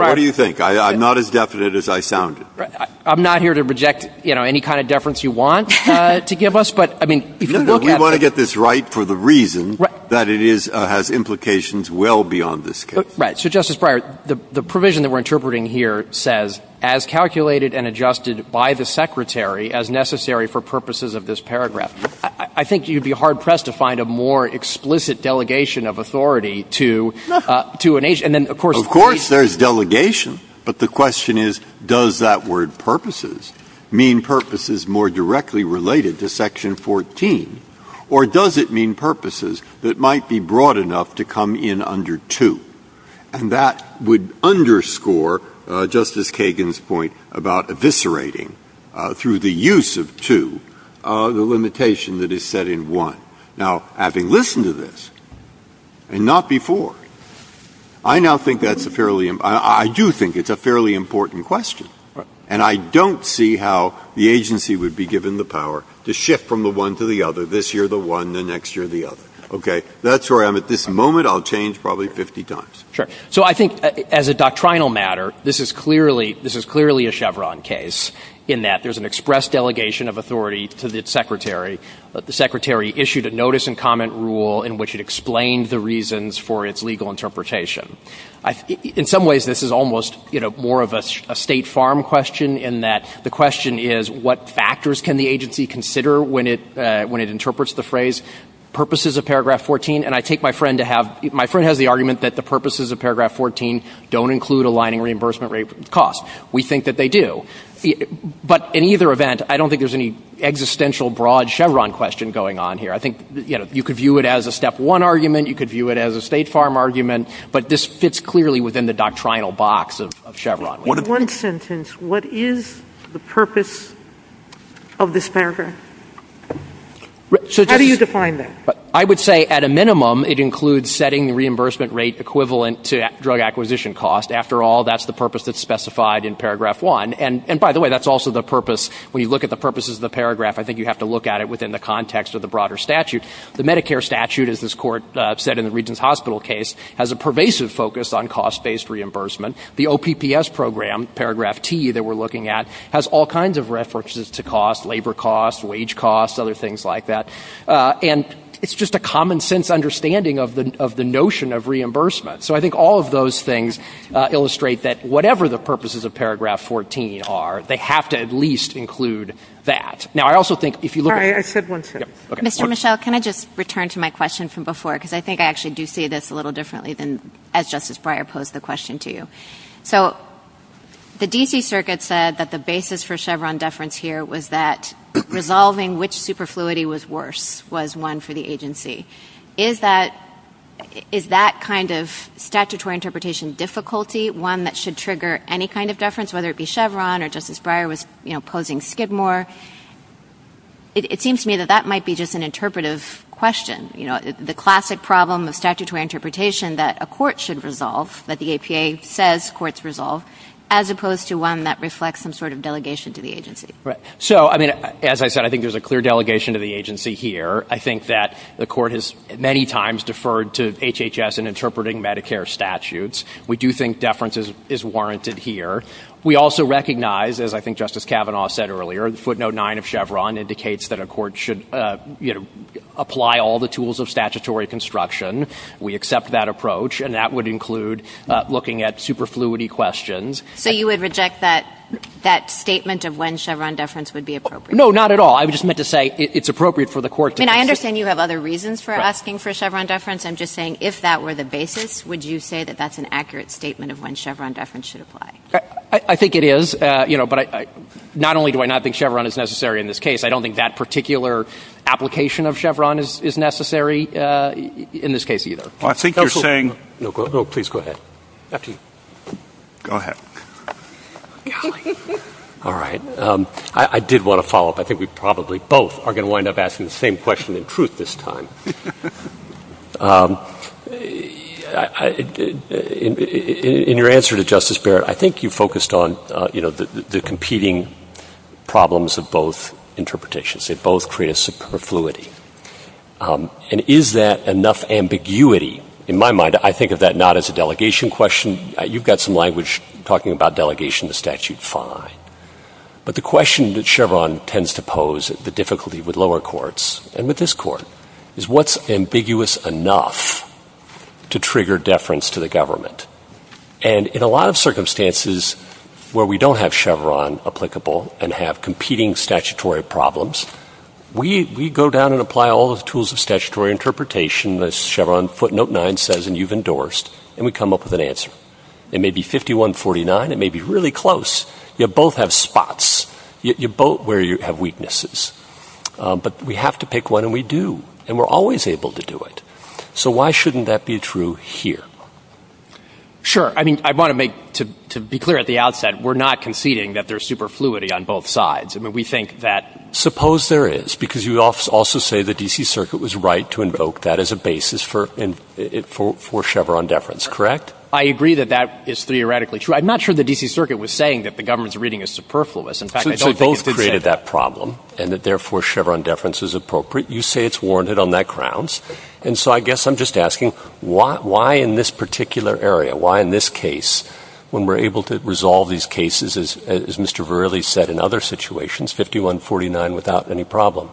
what do you think? I'm not as definite as I sounded. I'm not here to reject any kind of deference you want to give us. You want to get this right for the reason that it has implications well beyond this case. Right. So, Justice Breyer, the provision that we're interpreting here says, as calculated and adjusted by the secretary as necessary for purposes of this paragraph. I think you'd be hard-pressed to find a more explicit delegation of authority to an agency. Of course there's delegation. But the question is, does that word purposes mean purposes more directly related to Section 14? Or does it mean purposes that might be broad enough to come in under 2? And that would underscore Justice Kagan's point about eviscerating, through the use of 2, the limitation that is set in 1. Now, having listened to this, and not before, I do think it's a fairly important question. And I don't see how the agency would be given the power to shift from the one to the other, this year the one, the next year the other. Okay? That's where I'm at this moment. I'll change probably 50 times. Sure. So I think, as a doctrinal matter, this is clearly a Chevron case, in that there's an express delegation of authority to the secretary. The secretary issued a notice-and-comment rule in which it explained the reasons for its legal interpretation. In some ways, this is almost more of a State Farm question, in that the question is, what factors can the agency consider when it interprets the phrase, purposes of Paragraph 14? And I take my friend to have... My friend has the argument that the purposes of Paragraph 14 don't include aligning reimbursement costs. We think that they do. But in either event, I don't think there's any existential, broad Chevron question going on here. I think you could view it as a Step 1 argument. You could view it as a State Farm argument. But this fits clearly within the doctrinal box of Chevron. In one sentence, what is the purpose of this paragraph? How do you define that? I would say, at a minimum, it includes setting the reimbursement rate equivalent to drug acquisition costs. After all, that's the purpose that's specified in Paragraph 1. And by the way, that's also the purpose... When you look at the purposes of the paragraph, I think you have to look at it within the context of the broader statute. The Medicare statute, as this court said in the Regents Hospital case, has a pervasive focus on cost-based reimbursement. The OPPS program, Paragraph T that we're looking at, has all kinds of references to costs, labor costs, wage costs, other things like that. And it's just a common-sense understanding of the notion of reimbursement. So I think all of those things illustrate that whatever the purposes of Paragraph 14 are, they have to at least include that. Now, I also think if you look at... Sorry, I said one thing. Mr. Michel, can I just return to my question from before? Because I think I actually do see this a little differently than as Justice Breyer posed the question to you. So the D.C. Circuit said that the basis for Chevron deference here was that resolving which superfluity was worse was one for the agency. Is that kind of statutory interpretation difficulty one that should trigger any kind of deference, whether it be Chevron or Justice Breyer was, you know, posing Skidmore? It seems to me that that might be just an interpretive question. You know, the classic problem of statutory interpretation that a court should resolve, that the APA says courts resolve, as opposed to one that reflects some sort of delegation to the agency. So, I mean, as I said, I think there's a clear delegation to the agency here. I think that the court has many times deferred to HHS in interpreting Medicare statutes. We do think deference is warranted here. We also recognize, as I think Justice Kavanaugh said earlier, footnote 9 of Chevron indicates that a court should, you know, apply all the tools of statutory construction. We accept that approach, and that would include looking at superfluity questions. So you would reject that statement of when Chevron deference would be appropriate? No, not at all. I just meant to say it's appropriate for the court to... And I understand you have other reasons for asking for Chevron deference. I'm just saying, if that were the basis, would you say that that's an accurate statement of when Chevron deference should apply? I think it is. You know, but not only do I not think Chevron is necessary in this case, I don't think that particular application of Chevron is necessary in this case either. Well, I think you're saying... No, please go ahead. Absolutely. Go ahead. All right. I did want to follow up. I think we probably both are going to wind up asking the same question in truth this time. In your answer to Justice Barrett, I think you focused on, you know, the competing problems of both interpretations. They both create a superfluity. And is that enough ambiguity? In my mind, I think of that not as a delegation question. You've got some language talking about delegation in the statute. Fine. But the question that Chevron tends to pose, the difficulty with lower courts and with this court, is what's ambiguous enough to trigger deference to the government? And in a lot of circumstances where we don't have Chevron applicable and have competing statutory problems, we go down and apply all the tools of statutory interpretation that Chevron footnote 9 says and you've endorsed, and we come up with an answer. It may be 51-49. It may be really close. You both have spots. You both have weaknesses. But we have to pick one, and we do. And we're always able to do it. So why shouldn't that be true here? Sure. I mean, I want to make, to be clear at the outset, we're not conceding that there's superfluity on both sides. I mean, we think that... Suppose there is, because you also say the D.C. Circuit was right to invoke that as a basis for Chevron deference, correct? I agree that that is theoretically true. I'm not sure the D.C. Circuit was saying that the government's reading is superfluous. So you both created that problem and that therefore Chevron deference is appropriate. You say it's warranted on that grounds. And so I guess I'm just asking, why in this particular area, why in this case, when we're able to resolve these cases, as Mr. Verrilli said in other situations, 51-49 without any problem?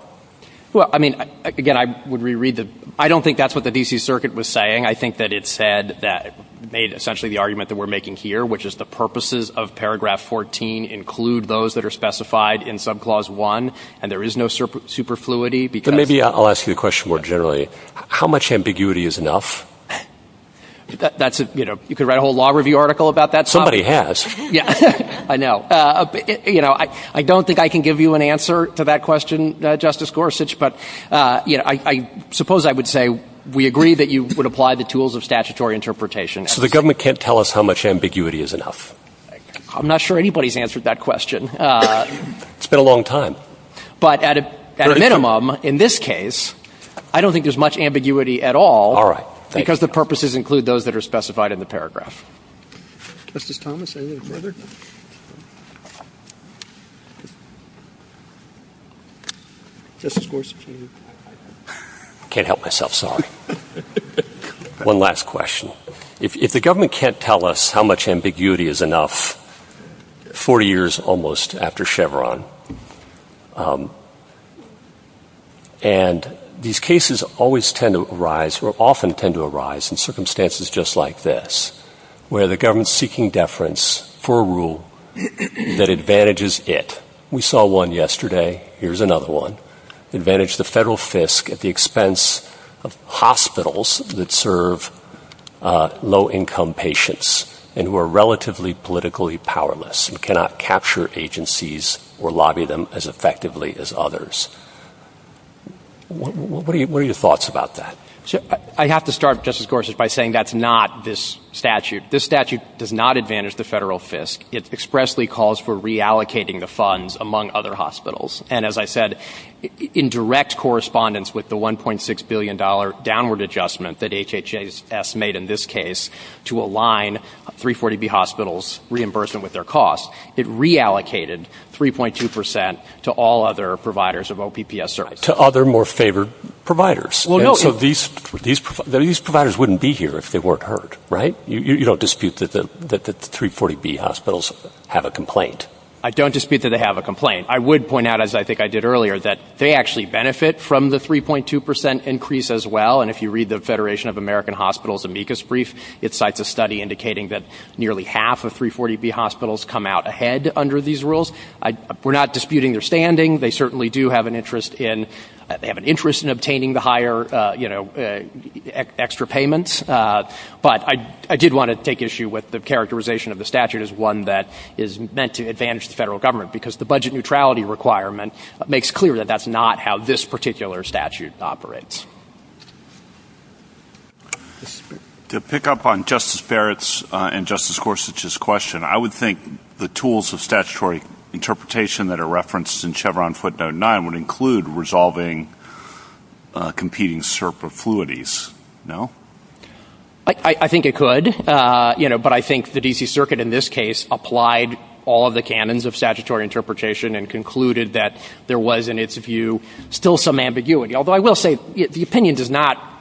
Well, I mean, again, I would reread the... I don't think that's what the D.C. Circuit was saying. I think that it said that it made essentially the argument that we're making here, which is the purposes of paragraph 14 include those that are specified in subclause 1, and there is no superfluity because... So maybe I'll ask you a question more generally. How much ambiguity is enough? That's a, you know, you could write a whole law review article about that. Somebody has. Yeah, I know. You know, I don't think I can give you an answer to that question, Justice Gorsuch, but, you know, I suppose I would say we agree that you would apply the tools of statutory interpretation. So the government can't tell us how much ambiguity is enough? I'm not sure anybody's answered that question. It's been a long time. But at a minimum, in this case, I don't think there's much ambiguity at all because the purposes include those that are specified in the paragraph. Justice Thomas, any other... Justice Gorsuch, can you... Can't help myself, sorry. One last question. If the government can't tell us how much ambiguity is enough, 40 years almost after Chevron, and these cases always tend to arise, or often tend to arise, in circumstances just like this, where the government's seeking deference for a rule that advantages it. We saw one yesterday. Here's another one. Advantage the federal FISC at the expense of hospitals that serve low-income patients and who are relatively politically powerless and cannot capture agencies or lobby them as effectively as others. What are your thoughts about that? I have to start, Justice Gorsuch, by saying that's not this statute. This statute does not advantage the federal FISC. It expressly calls for reallocating the funds among other hospitals. And as I said, in direct correspondence with the $1.6 billion downward adjustment that HHS made in this case to align 340B hospitals' reimbursement with their costs, it reallocated 3.2% to all other providers of OPPS services. To other more favored providers. Well, no. These providers wouldn't be here if they weren't hurt, right? You don't dispute that the 340B hospitals have a complaint? I don't dispute that they have a complaint. I would point out, as I think I did earlier, that they actually benefit from the 3.2% increase as well. And if you read the Federation of American Hospitals' amicus brief, it cites a study indicating that nearly half of 340B hospitals come out ahead under these rules. We're not disputing their standing. They certainly do have an interest in obtaining the higher, you know, extra payments. But I did want to take issue with the characterization of the statute as one that is meant to advantage the federal government because the budget neutrality requirement makes clear that that's not how this particular statute operates. To pick up on Justice Barrett's and Justice Gorsuch's question, I would think the tools of statutory interpretation that are referenced in Chevron footnote 9 would include resolving competing CERP affluities, no? I think it could, you know, but I think the D.C. Circuit, in this case, applied all of the canons of statutory interpretation and concluded that there was, in its view, still some ambiguity. Although I will say the opinion does not,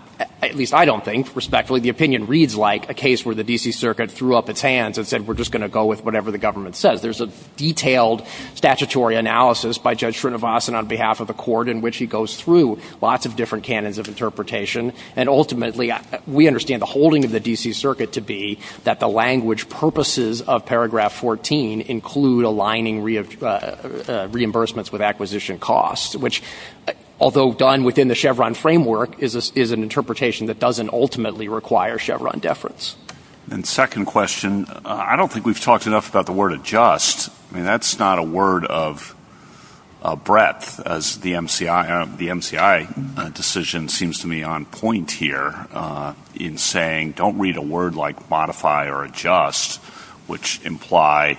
at least I don't think, respectfully, the opinion reads like a case where the D.C. Circuit threw up its hands and said we're just going to go with whatever the government says. There's a detailed statutory analysis by Judge Srinivasan on behalf of the court in which he goes through lots of different canons of interpretation and ultimately we understand the holding of the D.C. Circuit to be that the language purposes of paragraph 14 include aligning reimbursements with acquisition costs, which, although done within the Chevron framework, is an interpretation that doesn't ultimately require Chevron deference. And second question, I don't think we've talked enough about the word adjust. I mean, that's not a word of breadth as the MCI decision seems to be on point here in saying don't read a word like modify or adjust, which imply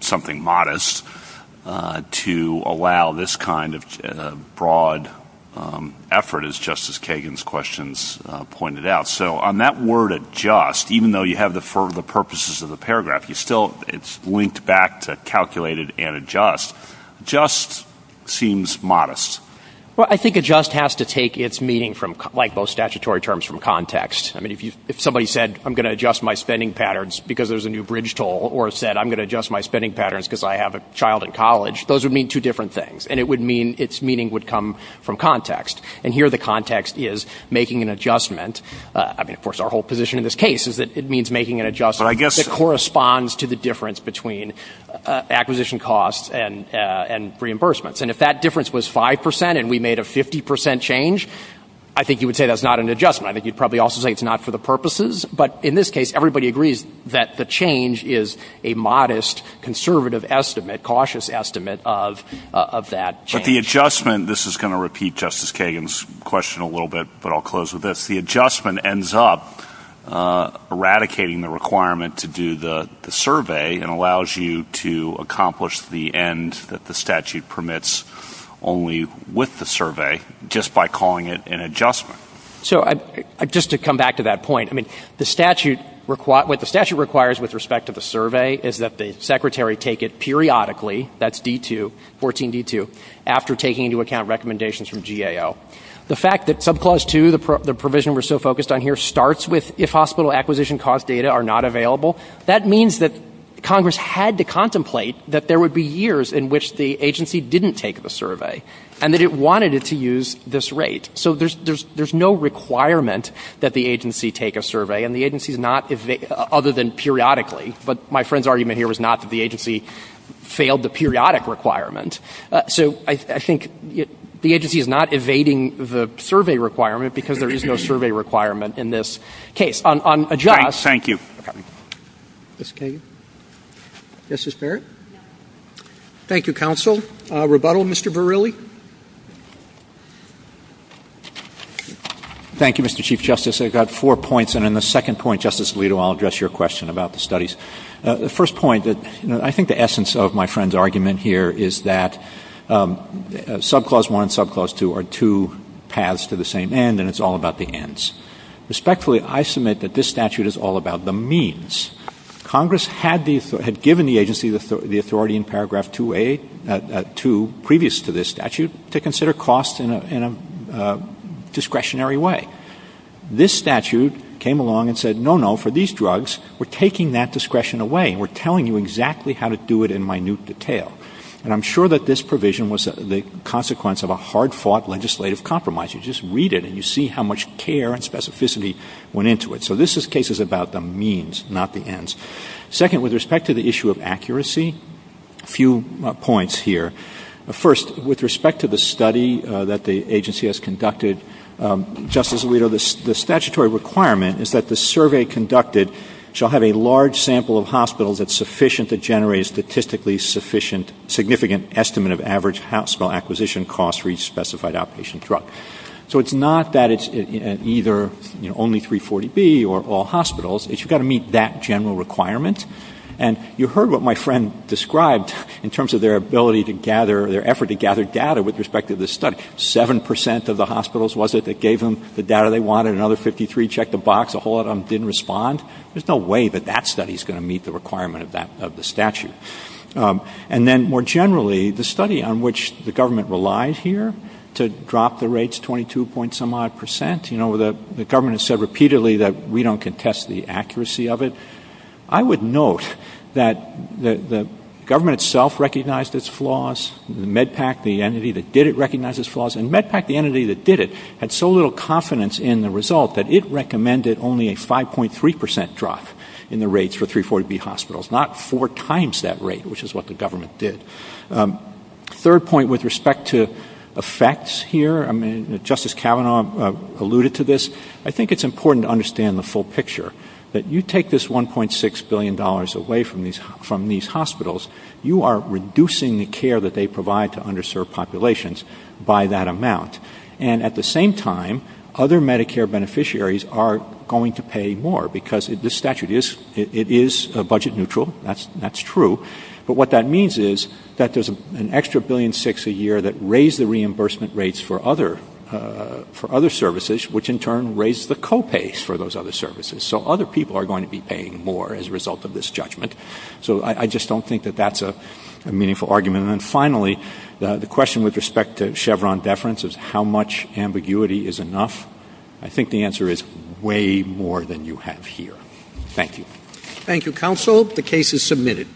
something modest, to allow this kind of broad effort as Justice Kagan's questions pointed out. So on that word adjust, even though you have the purposes of the paragraph, it's still linked back to calculated and adjust. Adjust seems modest. Well, I think adjust has to take its meaning from, like most statutory terms, from context. I mean, if somebody said I'm going to adjust my spending patterns because there's a new bridge toll or said I'm going to adjust my spending patterns because I have a child in college, those would mean two different things. And it would mean its meaning would come from context. And here the context is making an adjustment. I mean, of course, our whole position in this case is that it means making an adjustment that corresponds to the difference between acquisition costs and reimbursements. And if that difference was 5% and we made a 50% change, I think you would say that's not an adjustment. I think you'd probably also say it's not for the purposes. But in this case, everybody agrees that the change is a modest, conservative estimate, cautious estimate of that change. But the adjustment, this is going to repeat Justice Kagan's question a little bit, but I'll close with this. The adjustment ends up eradicating the requirement to do the survey and allows you to accomplish the end that the statute permits only with the survey just by calling it an adjustment. So just to come back to that point, I mean, what the statute requires with respect to the survey is that the secretary take it periodically, that's D-2, 14-D-2, after taking into account recommendations from GAO. The fact that subclause 2, the provision we're so focused on here, starts with if hospital acquisition cost data are not available, that means that Congress had to contemplate that there would be years in which the agency didn't take the survey and that it wanted it to use this rate. So there's no requirement that the agency take a survey and the agency's not, other than periodically. But my friend's argument here was not that the agency failed the periodic requirement. So I think the agency is not evading the survey requirement because there is no survey requirement in this case. On adjust... Thank you. Ms. Kagan? Yes, Mr. Barrett? Thank you, counsel. Rebuttal, Mr. Verrilli? Thank you, Mr. Chief Justice. I've got four points, and in the second point, Justice Alito, I'll address your question about the studies. The first point, I think the essence of my friend's argument here is that subclause 1 and subclause 2 are two paths to the same end, and it's all about the ends. Respectfully, I submit that this statute is all about the means. Congress had given the agency the authority in paragraph 2A, 2 previous to this statute, to consider costs in a discretionary way. This statute came along and said, no, no, for these drugs, we're taking that discretion away. We're telling you exactly how to do it in minute detail. And I'm sure that this provision was the consequence of a hard-fought legislative compromise. You just read it, and you see how much care and specificity went into it. So this is cases about the means, not the ends. Second, with respect to the issue of accuracy, a few points here. First, with respect to the study that the agency has conducted, Justice Alito, the statutory requirement is that the survey conducted shall have a large sample of hospitals that's sufficient to generate a statistically sufficient significant estimate of average hospital acquisition costs for each specified outpatient drug. So it's not that it's either only 340B or all hospitals. It's you've got to meet that general requirement. And you heard what my friend described in terms of their ability to gather, their effort to gather data with respect to this study. Seven percent of the hospitals, was it, that gave them the data they wanted? Another 53 checked the box and a whole lot of them didn't respond. There's no way that that study is going to meet the requirement of the statute. And then more generally, the study on which the government relies here to drop the rates 22 point some odd percent. You know, the government has said repeatedly that we don't contest the accuracy of it. I would note that the government itself recognized its flaws. MedPAC, the entity that did it, recognized its flaws. And MedPAC, the entity that did it, had so little confidence in the result that it recommended only a 5.3 percent drop in the rates for 340B hospitals. Not four times that rate, which is what the government did. Third point with respect to effects here. I mean, Justice Kavanaugh alluded to this. I think it's important to understand the full picture. That you take this 1.6 billion dollars away from these hospitals, you are reducing the care that they provide to underserved populations by that amount. And at the same time, other Medicare beneficiaries are going to pay more because this statute is budget neutral. That's true. But what that means is that there's an extra 1.6 billion a year that raise the reimbursement rates for other services, which in turn raise the co-pays for those other services. So other people are going to be paying more as a result of this judgment. So I just don't think that that's a meaningful argument. And finally, the question with respect to Chevron deference is how much ambiguity is enough? I think the answer is way more than you have here. Thank you. Thank you, Counsel. The case is submitted.